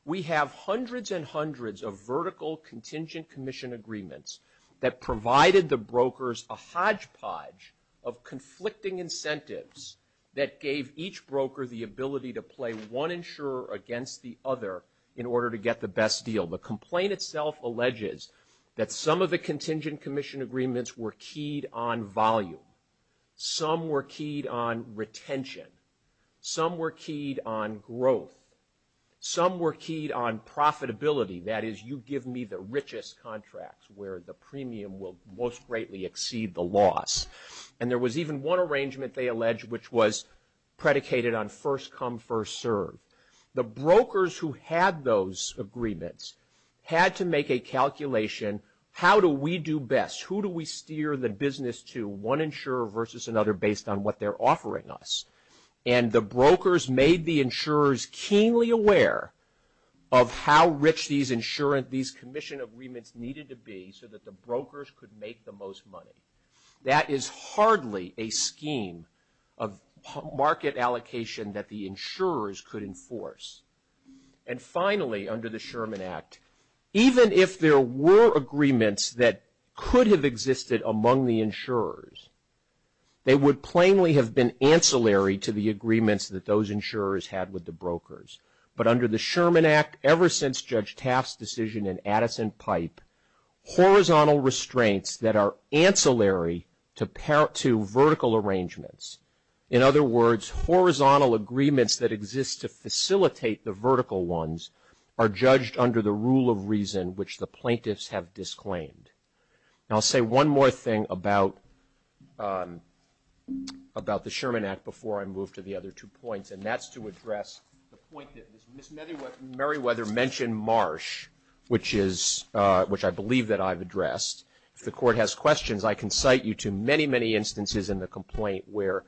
we have hundreds and hundreds of vertical contingent commission agreements that provided the brokers a hodgepodge of conflicting incentives that gave each broker the ability to play one insurer against the other in order to get the best deal. The complaint itself alleges that some of the contingent commission agreements were keyed on volume. Some were keyed on retention. Some were keyed on growth. Some were keyed on profitability. That is, you give me the richest contracts where the premium will most greatly exceed the loss. And there was even one arrangement, they allege, which was predicated on first come, first serve. The brokers who had those agreements had to make a calculation, how do we do best? Who do we steer the business to, one insurer versus another, based on what they're offering us? And the brokers made the insurers keenly aware of how rich these commission agreements needed to be so that the brokers could make the most money. That is hardly a scheme of market allocation that the insurers could enforce. And finally, under the Sherman Act, even if there were agreements that could have existed among the insurers, they would plainly have been ancillary to the agreements that those insurers had with the brokers. But under the Sherman Act, ever since Judge Taft's decision in Addison Pipe, horizontal restraints that are ancillary to vertical arrangements, in other words, horizontal agreements that exist to facilitate the vertical ones, are judged under the rule of reason which the plaintiffs have disclaimed. I'll say one more thing about the Sherman Act before I move to the other two points, and that's to address the point that Ms. Merriweather mentioned Marsh, which I believe that I've addressed. If the Court has questions, I can cite you to many, many instances in the complaint where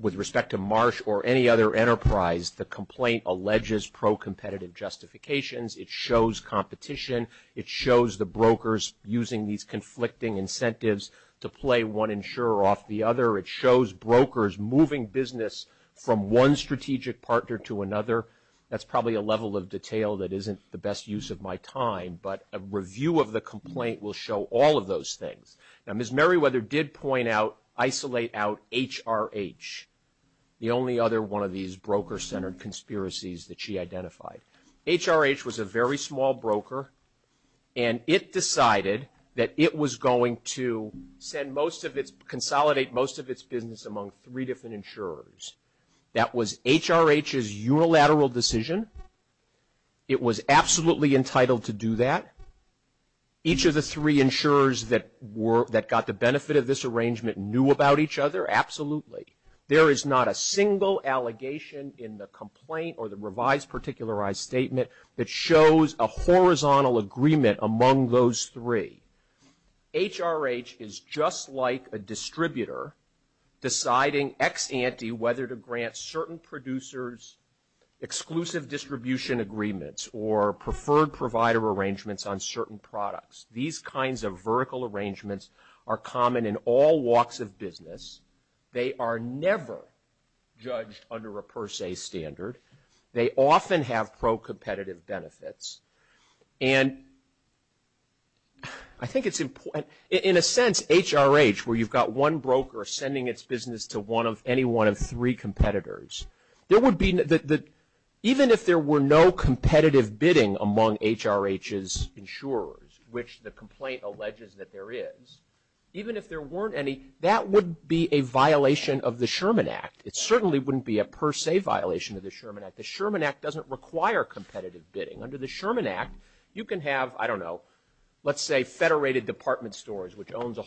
with respect to Marsh or any other enterprise, the complaint alleges pro-competitive justifications. It shows competition. It shows the brokers using these conflicting incentives to play one insurer off the other. It shows brokers moving business from one strategic partner to another. That's probably a level of detail that isn't the best use of my time, but a review of the complaint will show all of those things. Now, Ms. Merriweather did point out, isolate out HRH, the only other one of these broker-centered conspiracies that she identified. HRH was a very small broker, and it decided that it was going to consolidate most of its business among three different insurers. That was HRH's unilateral decision. It was absolutely entitled to do that. Each of the three insurers that got the benefit of this arrangement knew about each other, absolutely. There is not a single allegation in the complaint or the revised particularized statement that shows a horizontal agreement among those three. HRH is just like a distributor deciding ex ante whether to grant certain producers exclusive distribution agreements or preferred provider arrangements on certain products. These kinds of vertical arrangements are common in all walks of business. They are never judged under a per se standard. They often have pro-competitive benefits. And I think it's important. In a sense, HRH, where you've got one broker sending its business to any one of three competitors, even if there were no competitive bidding among HRH's insurers, which the complaint alleges that there is, even if there weren't any, that would be a violation of the Sherman Act. It certainly wouldn't be a per se violation of the Sherman Act. The Sherman Act doesn't require competitive bidding. Under the Sherman Act, you can have, I don't know, let's say federated department stores, which owns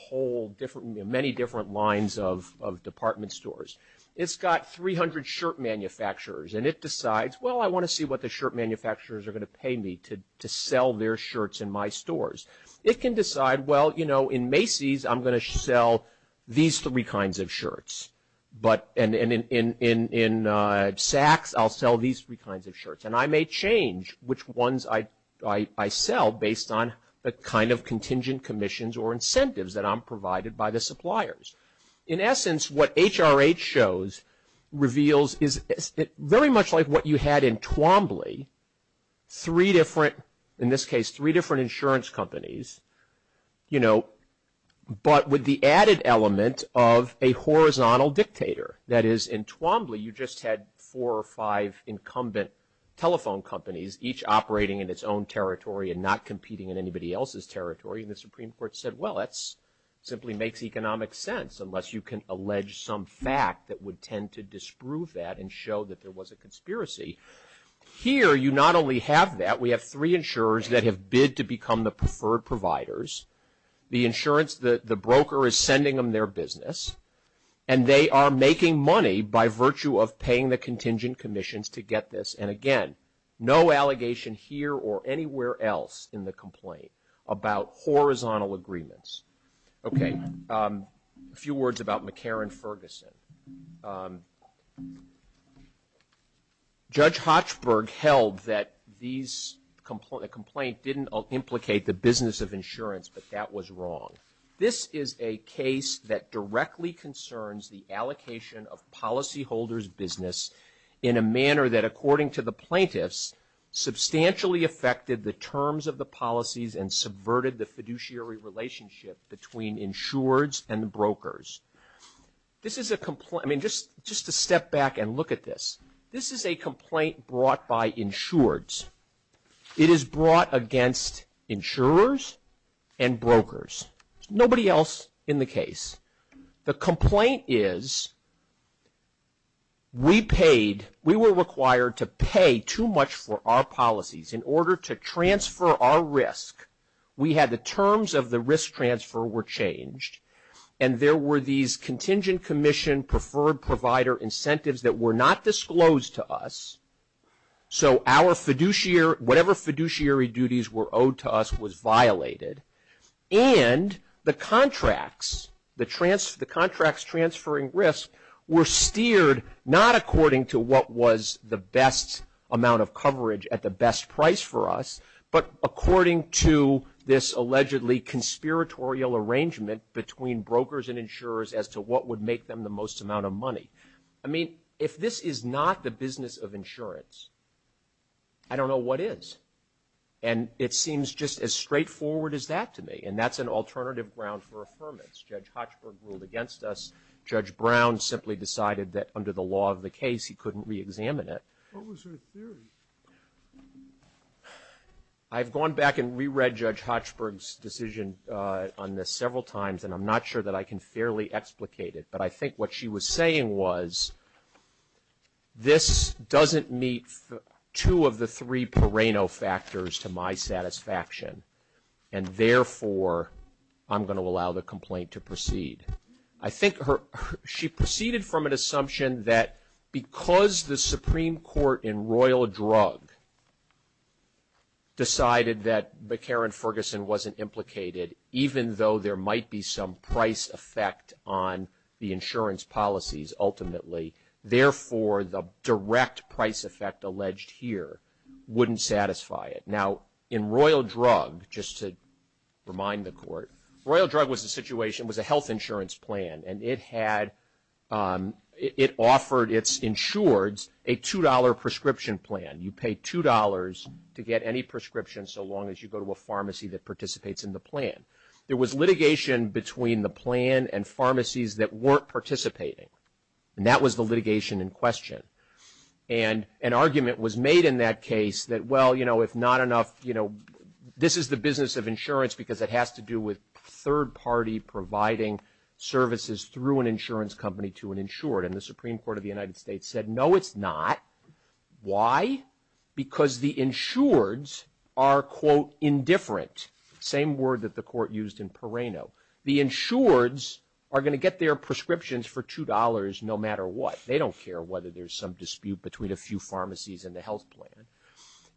many different lines of department stores. It's got 300 shirt manufacturers, and it decides, well, I want to see what the shirt manufacturers are going to pay me to sell their shirts in my stores. It can decide, well, you know, in Macy's, I'm going to sell these three kinds of shirts. And in Saks, I'll sell these three kinds of shirts. And I may change which ones I sell based on the kind of contingent commissions or incentives that I'm provided by the suppliers. In essence, what HRH shows, reveals, is very much like what you had in Twombly, three different, in this case, three different insurance companies, you know, but with the added element of a horizontal dictator. That is, in Twombly, you just had four or five incumbent telephone companies, each operating in its own territory and not competing in anybody else's territory. And the Supreme Court said, well, that simply makes economic sense, unless you can allege some fact that would tend to disprove that and show that there was a conspiracy. Here, you not only have that, we have three insurers that have bid to become the preferred providers. The broker is sending them their business, and they are making money by virtue of paying the contingent commissions to get this. And, again, no allegation here or anywhere else in the complaint about horizontal agreements. Okay, a few words about McCarran Ferguson. Judge Hochberg held that these, the complaint didn't implicate the business of insurance, but that was wrong. This is a case that directly concerns the allocation of policyholders' business in a manner that, according to the plaintiffs, substantially affected the terms of the policies and subverted the fiduciary relationship between insurers and brokers. This is a complaint, I mean, just to step back and look at this. This is a complaint brought by insurers. It is brought against insurers and brokers, nobody else in the case. The complaint is we paid, we were required to pay too much for our policies in order to transfer our risk. We had the terms of the risk transfer were changed, and there were these contingent commission preferred provider incentives that were not disclosed to us. So our fiduciary, whatever fiduciary duties were owed to us was violated. And the contracts, the contracts transferring risk, were steered not according to what was the best amount of coverage at the best price for us, but according to this allegedly conspiratorial arrangement between brokers and insurers as to what would make them the most amount of money. I mean, if this is not the business of insurance, I don't know what is. And it seems just as straightforward as that to me, and that's an alternative ground for affirmance. Judge Hochberg ruled against us. Judge Brown simply decided that under the law of the case he couldn't reexamine it. What was her theory? I've gone back and reread Judge Hochberg's decision on this several times, and I'm not sure that I can fairly explicate it, but I think what she was saying was this doesn't meet two of the three perennial factors to my satisfaction, and therefore I'm going to allow the complaint to proceed. I think she proceeded from an assumption that because the Supreme Court in Royal Drug decided that McCarran Ferguson wasn't implicated, even though there might be some price effect on the insurance policies ultimately, therefore the direct price effect alleged here wouldn't satisfy it. Now, in Royal Drug, just to remind the Court, Royal Drug was a health insurance plan, and it offered its insureds a $2 prescription plan. You pay $2 to get any prescription so long as you go to a pharmacy that participates in the plan. It was litigation between the plan and pharmacies that weren't participating, and that was the litigation in question. And an argument was made in that case that, well, you know, if not enough, you know, this is the business of insurance because it has to do with third party providing services through an insurance company to an insured, and the Supreme Court of the United States said, no, it's not. Why? Because the insureds are, quote, indifferent. Same word that the Court used in Pereno. The insureds are going to get their prescriptions for $2 no matter what. They don't care whether there's some dispute between a few pharmacies and the health plan.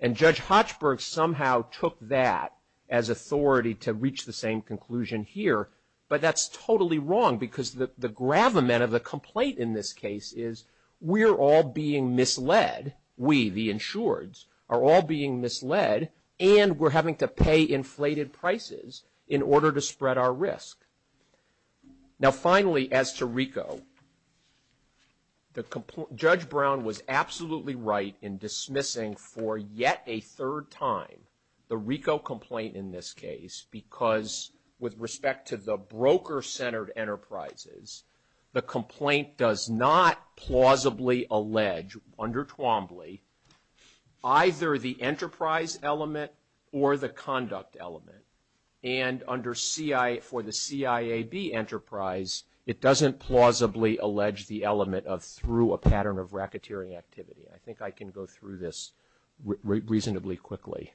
And Judge Hochberg somehow took that as authority to reach the same conclusion here, but that's totally wrong because the gravamen of the complaint in this case is we're all being misled, we, the insureds, are all being misled, and we're having to pay inflated prices in order to spread our risk. Now, finally, as to RICO, Judge Brown was absolutely right in dismissing for yet a third time the RICO complaint in this case because with respect to the broker-centered enterprises, the complaint does not plausibly allege, under Twombly, either the enterprise element or the conduct element. And under CI, for the CIAB enterprise, it doesn't plausibly allege the element of through a pattern of racketeering activity. I think I can go through this reasonably quickly.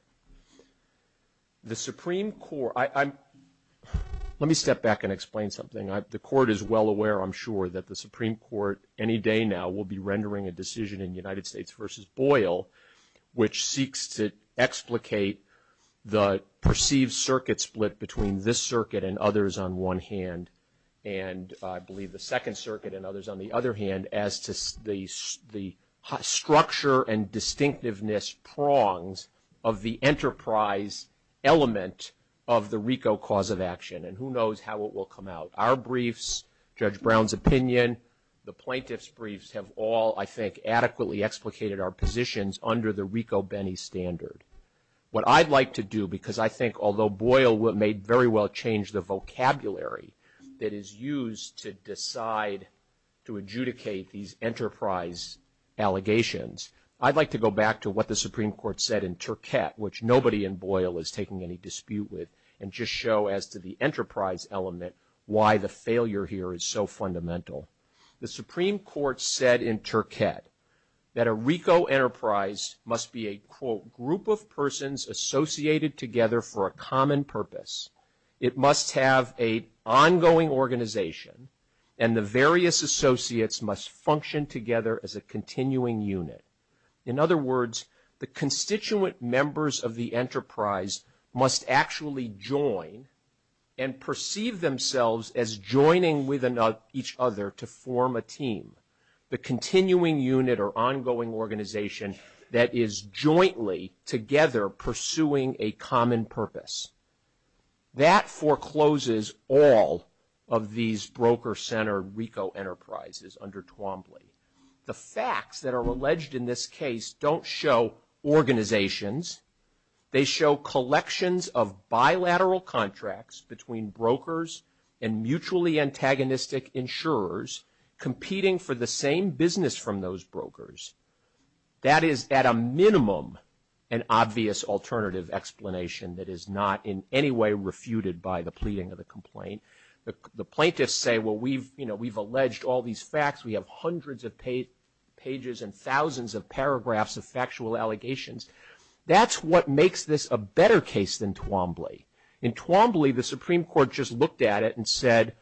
The Supreme Court – let me step back and explain something. The Court is well aware, I'm sure, that the Supreme Court any day now will be rendering a decision in United States v. Boyle which seeks to explicate the perceived circuit split between this circuit and others on one hand and I believe the Second Circuit and others on the other hand as to the structure and distinctiveness prongs of the enterprise element of the RICO cause of action, and who knows how it will come out. Our briefs, Judge Brown's opinion, the plaintiff's briefs have all, I think, adequately explicated our positions under the RICO-Bennie standard. What I'd like to do, because I think although Boyle may very well change the vocabulary that is used to decide to adjudicate these enterprise allegations, I'd like to go back to what the Supreme Court said in Turquette, which nobody in Boyle is taking any dispute with, and just show as to the enterprise element why the failure here is so fundamental. The Supreme Court said in Turquette that a RICO enterprise must be a, quote, group of persons associated together for a common purpose. It must have an ongoing organization and the various associates must function together as a continuing unit. In other words, the constituent members of the enterprise must actually join and perceive themselves as joining with each other to form a team, the continuing unit or ongoing organization that is jointly together pursuing a common purpose. That forecloses all of these broker-centered RICO enterprises under Twombly. The facts that are alleged in this case don't show organizations. They show collections of bilateral contracts between brokers and mutually antagonistic insurers competing for the same business from those brokers. That is at a minimum an obvious alternative explanation that is not in any way refuted by the pleading of the complaint. The plaintiffs say, well, we've alleged all these facts. We have hundreds of pages and thousands of paragraphs of factual allegations. That's what makes this a better case than Twombly. In Twombly, the Supreme Court just looked at it and said,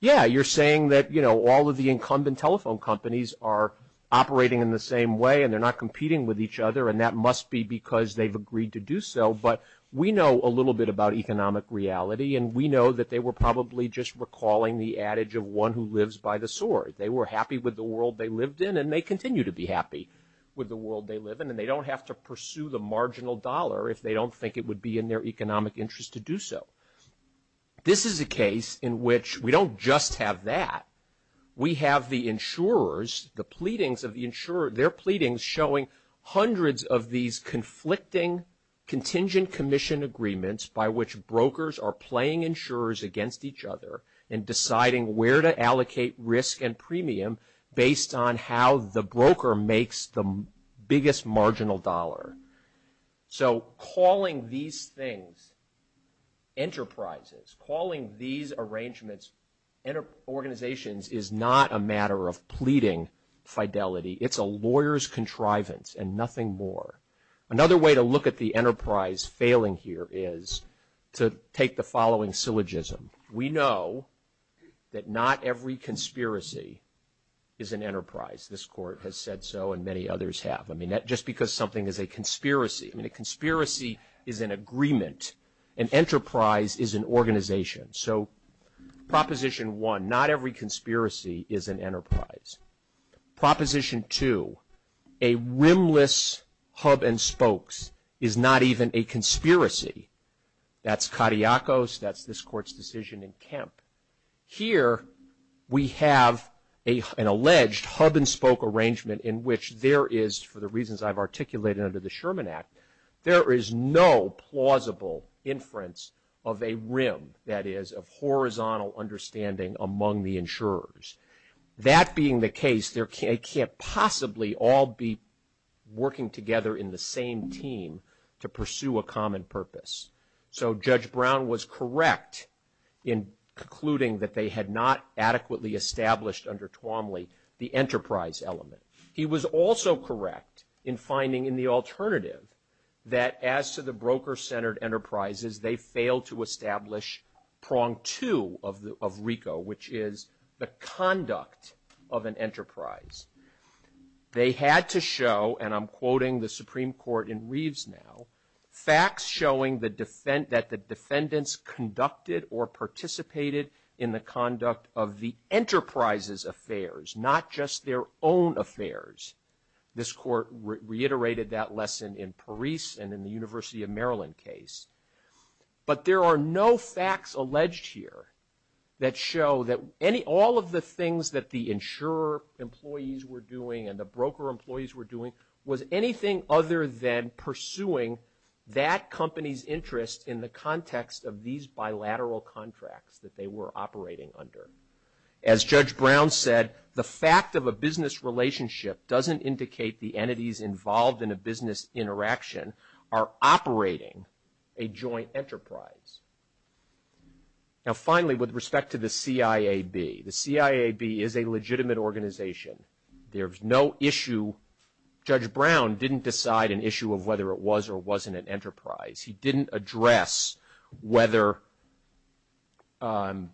yeah, you're saying that, you know, all of the incumbent telephone companies are operating in the same way and they're not competing with each other and that must be because they've agreed to do so. But we know a little bit about economic reality and we know that they were probably just recalling the adage of one who lives by the sword. They were happy with the world they lived in and they continue to be happy with the world they live in and they don't have to pursue the marginal dollar if they don't think it would be in their economic interest to do so. This is a case in which we don't just have that. We have the insurers, their pleadings showing hundreds of these conflicting contingent commission agreements by which brokers are playing insurers against each other and deciding where to allocate risk and premium based on how the broker makes the biggest marginal dollar. So calling these things enterprises, calling these arrangements organizations is not a matter of pleading fidelity. It's a lawyer's contrivance and nothing more. Another way to look at the enterprise failing here is to take the following syllogism. We know that not every conspiracy is an enterprise. This court has said so and many others have. I mean, just because something is a conspiracy, I mean, a conspiracy is an agreement. An enterprise is an organization. So Proposition 1, not every conspiracy is an enterprise. Proposition 2, a rimless hub and spokes is not even a conspiracy. That's Kadiakos, that's this court's decision in Kemp. Here we have an alleged hub and spoke arrangement in which there is, for the reasons I've articulated under the Sherman Act, there is no plausible inference of a rim, that is, of horizontal understanding among the insurers. That being the case, they can't possibly all be working together in the same team to pursue a common purpose. So Judge Brown was correct in concluding that they had not adequately established under Twomley the enterprise element. He was also correct in finding in the alternative that as to the broker-centered enterprises, they failed to establish prong two of RICO, which is the conduct of an enterprise. They had to show, and I'm quoting the Supreme Court in Reeves now, facts showing that the defendants conducted or participated in the conduct of the enterprise's affairs, not just their own affairs. This court reiterated that lesson in Parise and in the University of Maryland case. But there are no facts alleged here that show that all of the things that the insurer employees were doing and the broker employees were doing was anything other than pursuing that company's interest in the context of these bilateral contracts that they were operating under. As Judge Brown said, the fact of a business relationship doesn't indicate the entities involved in a business interaction are operating a joint enterprise. Now, finally, with respect to the CIAB, the CIAB is a legitimate organization. There's no issue. Judge Brown didn't decide an issue of whether it was or wasn't an enterprise. He didn't address whether, you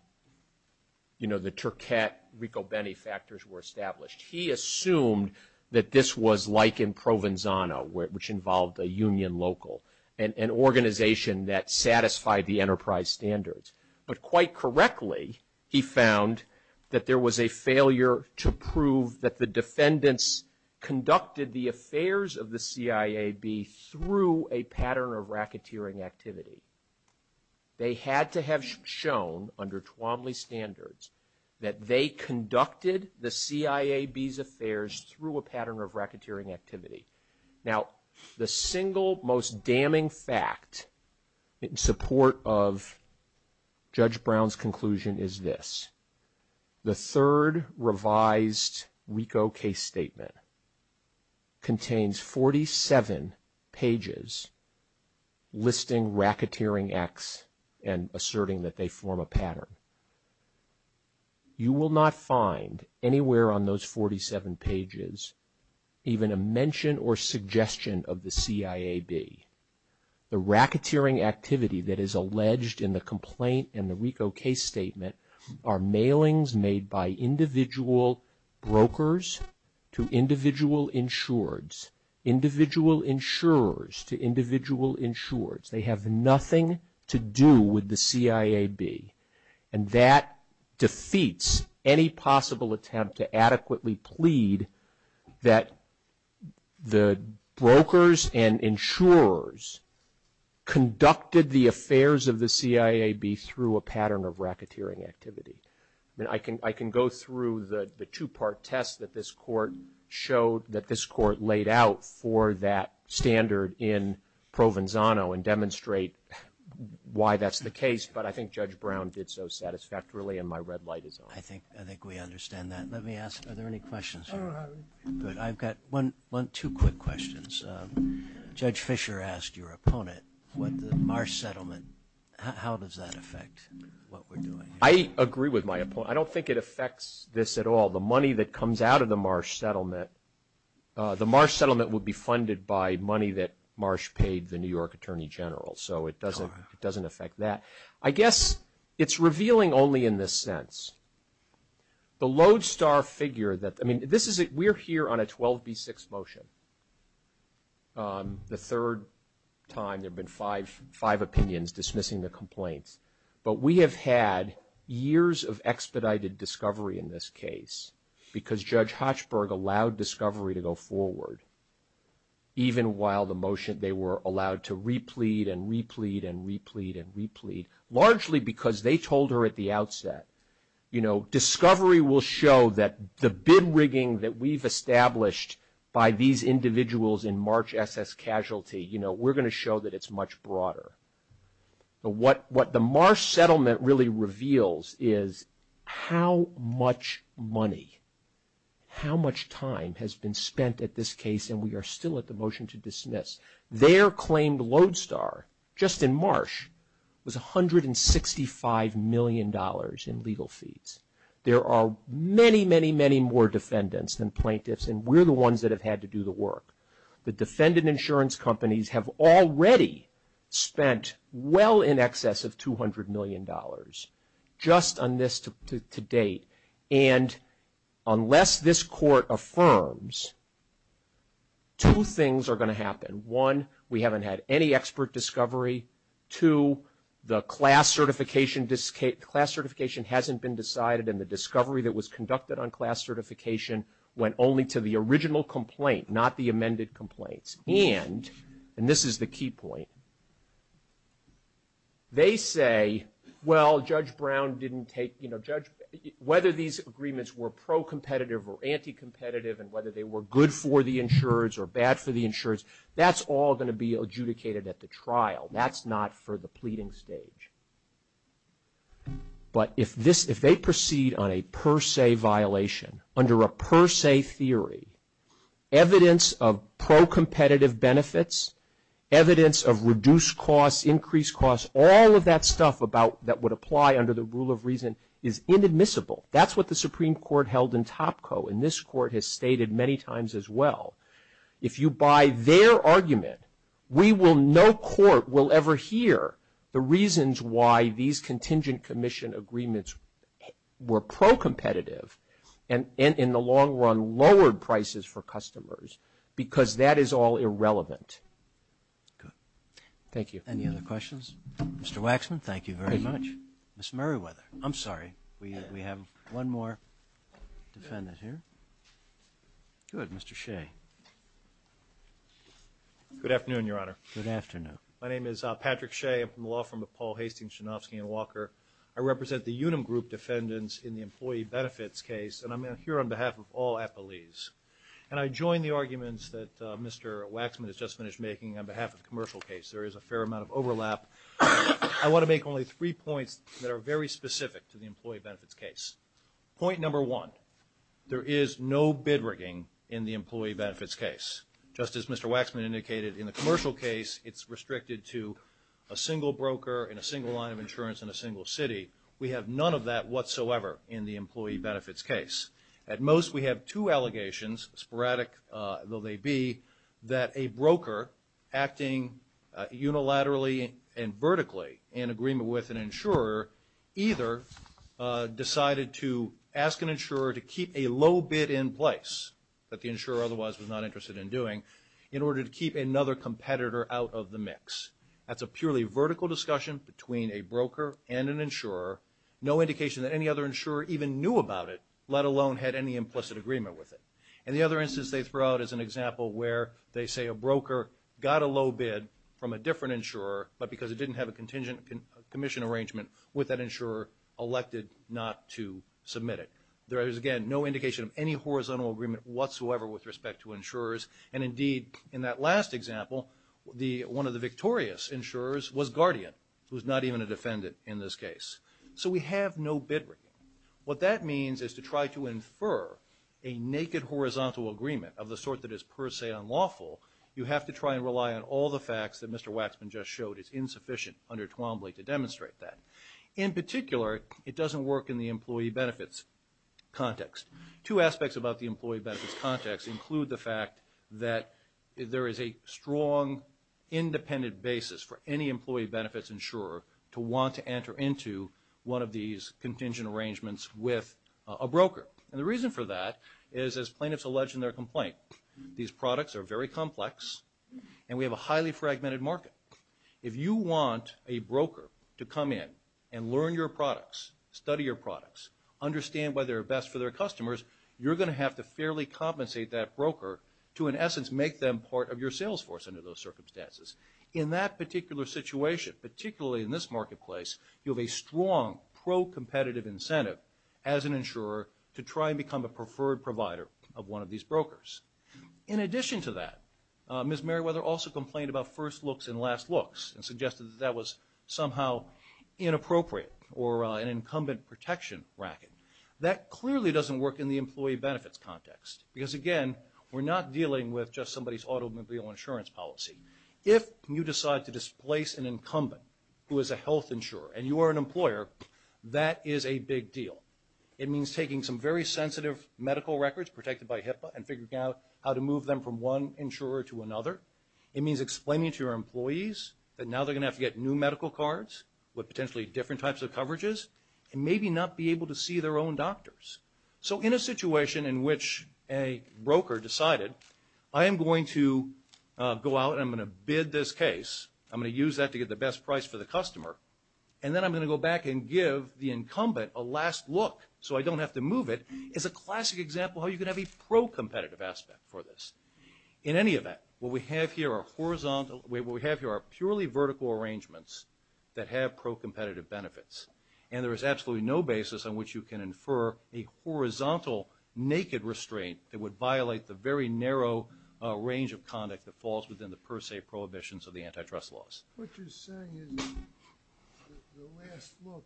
know, the Turcat-RICO benefactors were established. He assumed that this was like in Provenzano, which involved a union local, an organization that satisfied the enterprise standards. But quite correctly, he found that there was a failure to prove that the defendants conducted the affairs of the CIAB through a pattern of racketeering activity. They had to have shown, under Twombly standards, that they conducted the CIAB's affairs through a pattern of racketeering activity. Now, the single most damning fact in support of Judge Brown's conclusion is this. The third revised RICO case statement contains 47 pages listing racketeering acts and asserting that they form a pattern. You will not find anywhere on those 47 pages even a mention or suggestion of the CIAB. The racketeering activity that is alleged in the complaint in the RICO case statement are mailings made by individual brokers to individual insureds, individual insurers to individual insureds. They have nothing to do with the CIAB. And that defeats any possible attempt to adequately plead that the brokers and insurers conducted the affairs of the CIAB through a pattern of racketeering activity. I can go through the two-part test that this court showed, that this court laid out for that standard in Provenzano and demonstrate why that's the case. But I think Judge Brown did so satisfactorily, and my red light is on. I think we understand that. Let me ask, are there any questions? I've got one, two quick questions. Judge Fisher asked your opponent what the Marsh Settlement, how does that affect what we're doing? I agree with my opponent. I don't think it affects this at all. The money that comes out of the Marsh Settlement, the Marsh Settlement would be funded by money that Marsh paid the New York Attorney General. So it doesn't affect that. I guess it's revealing only in this sense. The lodestar figure that, I mean, we're here on a 12B6 motion. The third time there have been five opinions dismissing the complaint. But we have had years of expedited discovery in this case because Judge Hochberg allowed discovery to go forward, even while the motion they were allowed to replete and replete and replete and replete, largely because they told her at the outset, you know, discovery will show that the bid rigging that we've established by these individuals in March SS casualty, you know, we're going to show that it's much broader. But what the Marsh Settlement really reveals is how much money, how much time has been spent at this case, and we are still at the motion to dismiss. Their claimed lodestar just in March was $165 million in legal fees. There are many, many, many more defendants than plaintiffs, and we're the ones that have had to do the work. The defendant insurance companies have already spent well in excess of $200 million just on this to date. And unless this court affirms, two things are going to happen. One, we haven't had any expert discovery. Two, the class certification hasn't been decided, and the discovery that was conducted on class certification went only to the original complaint, not the amended complaint. And, and this is the key point, they say, well, Judge Brown didn't take, you know, Judge, whether these agreements were pro-competitive or anti-competitive and whether they were good for the insurers or bad for the insurers, that's all going to be adjudicated at the trial. That's not for the pleading stage. But if this, if they proceed on a per se violation, under a per se theory, evidence of pro-competitive benefits, evidence of reduced costs, increased costs, all of that stuff about, that would apply under the rule of reason is inadmissible. That's what the Supreme Court held in Topco, and this court has stated many times as well. If you buy their argument, we will, no court will ever hear the reasons why these contingent commission agreements were pro-competitive and in the long run lowered prices for customers because that is all irrelevant. Thank you. Any other questions? Mr. Waxman, thank you very much. Ms. Merriweather, I'm sorry, we have one more defendant here. Good, Mr. Shea. Good afternoon, Your Honor. Good afternoon. My name is Patrick Shea. I'm from the Law Firm of Paul Hastings, Shinofsky & Walker. I represent the Unum Group Defendants in the Employee Benefits Case, and I'm here on behalf of all appellees. And I join the arguments that Mr. Waxman has just finished making on behalf of the commercial case. There is a fair amount of overlap. I want to make only three points that are very specific to the Employee Benefits Case. Point number one, there is no bid rigging in the Employee Benefits Case. Just as Mr. Waxman indicated, in the commercial case, it's restricted to a single broker and a single line of insurance in a single city. We have none of that whatsoever in the Employee Benefits Case. At most, we have two allegations, sporadic though they be, that a broker acting unilaterally and vertically in agreement with an insurer either decided to ask an insurer to keep a low bid in place that the insurer otherwise was not interested in doing in order to keep another competitor out of the mix. That's a purely vertical discussion between a broker and an insurer, no indication that any other insurer even knew about it, let alone had any implicit agreement with it. And the other instance they throw out is an example where they say a broker got a low bid from a different insurer but because it didn't have a contingent commission arrangement with that insurer, elected not to submit it. There is, again, no indication of any horizontal agreement whatsoever with respect to insurers. And indeed, in that last example, one of the victorious insurers was Guardian, who is not even a defendant in this case. So we have no bid rigging. What that means is to try to infer a naked horizontal agreement of the sort that is per se unlawful, you have to try and rely on all the facts that Mr. Waxman just showed is insufficient under Twombly to demonstrate that. In particular, it doesn't work in the employee benefits context. Two aspects about the employee benefits context include the fact that there is a strong independent basis for any employee benefits insurer to want to enter into one of these contingent arrangements with a broker. And the reason for that is, as plaintiffs allege in their complaint, these products are very complex and we have a highly fragmented market. If you want a broker to come in and learn your products, study your products, understand why they're best for their customers, you're going to have to fairly compensate that broker to in essence make them part of your sales force under those circumstances. In that particular situation, particularly in this marketplace, you have a strong pro-competitive incentive as an insurer to try and become a preferred provider of one of these brokers. In addition to that, Ms. Merriweather also complained about first looks and last looks and suggested that that was somehow inappropriate or an incumbent protection bracket. That clearly doesn't work in the employee benefits context because, again, we're not dealing with just somebody's automobile insurance policy. If you decide to displace an incumbent who is a health insurer and you are an employer, that is a big deal. It means taking some very sensitive medical records protected by HIPAA and figuring out how to move them from one insurer to another. It means explaining to your employees that now they're going to have to get new medical cards with potentially different types of coverages and maybe not be able to see their own doctors. So in a situation in which a broker decided, I am going to go out and I'm going to bid this case, I'm going to use that to get the best price for the customer, and then I'm going to go back and give the incumbent a last look so I don't have to move it, is a classic example how you can have a pro-competitive aspect for this. In any event, what we have here are purely vertical arrangements that have pro-competitive benefits. And there is absolutely no basis on which you can infer a horizontal naked restraint that would violate the very narrow range of conduct that falls within the per se prohibitions of the antitrust laws. What you're saying is the last look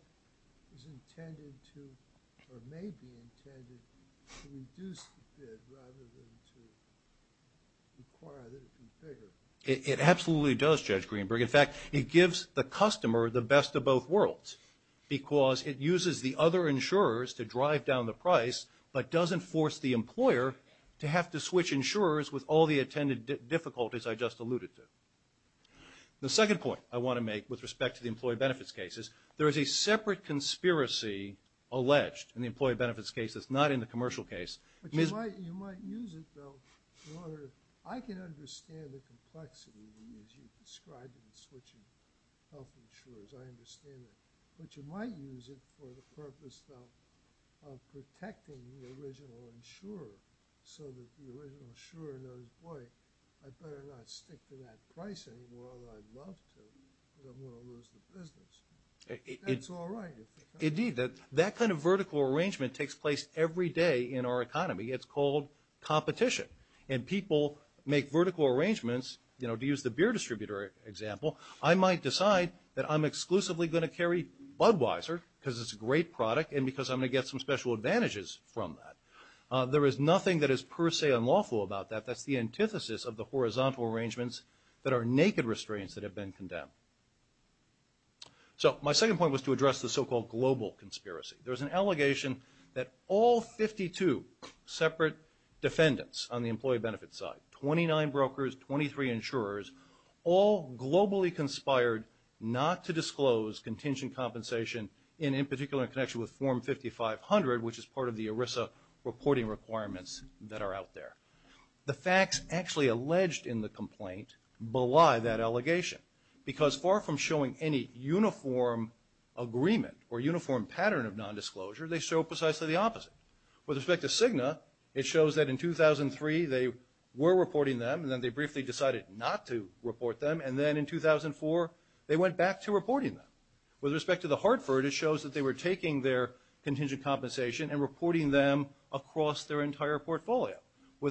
is intended to or may be intended to reduce the bid rather than to require that it be bigger. It absolutely does, Judge Greenberg. In fact, it gives the customer the best of both worlds because it uses the other insurers to drive down the price but doesn't force the employer to have to switch insurers with all the attended difficulties I just alluded to. The second point I want to make with respect to the employee benefits cases, there is a separate conspiracy alleged in the employee benefits case that's not in the commercial case. But you might use it, though, where I can understand the complexity in which you describe the switching of insurers. I understand that. But you might use it for the purpose, though, of protecting the original insurer so that the original insurer and employee are better not to stick to that price anymore or I'd love to but I'm going to lose the business. That's all right, isn't it? Indeed, that kind of vertical arrangement takes place every day in our economy. It's called competition. And people make vertical arrangements, you know, to use the beer distributor example, I might decide that I'm exclusively going to carry Budweiser because it's a great product and because I'm going to get some special advantages from that. There is nothing that is per se unlawful about that. That's the antithesis of the horizontal arrangements that are naked restraints that have been condemned. So my second point was to address the so-called global conspiracy. There was an allegation that all 52 separate defendants on the employee benefit side, 29 brokers, 23 insurers, all globally conspired not to disclose contingent compensation and in particular in connection with Form 5500, which is part of the ERISA reporting requirements that are out there. The facts actually alleged in the complaint belie that allegation because far from showing any uniform agreement or uniform pattern of nondisclosure, they show precisely the opposite. With respect to Cigna, it shows that in 2003 they were reporting them and then they briefly decided not to report them and then in 2004 they went back to reporting them. With respect to the Hartford, it shows that they were taking their contingent compensation and reporting them across their entire portfolio.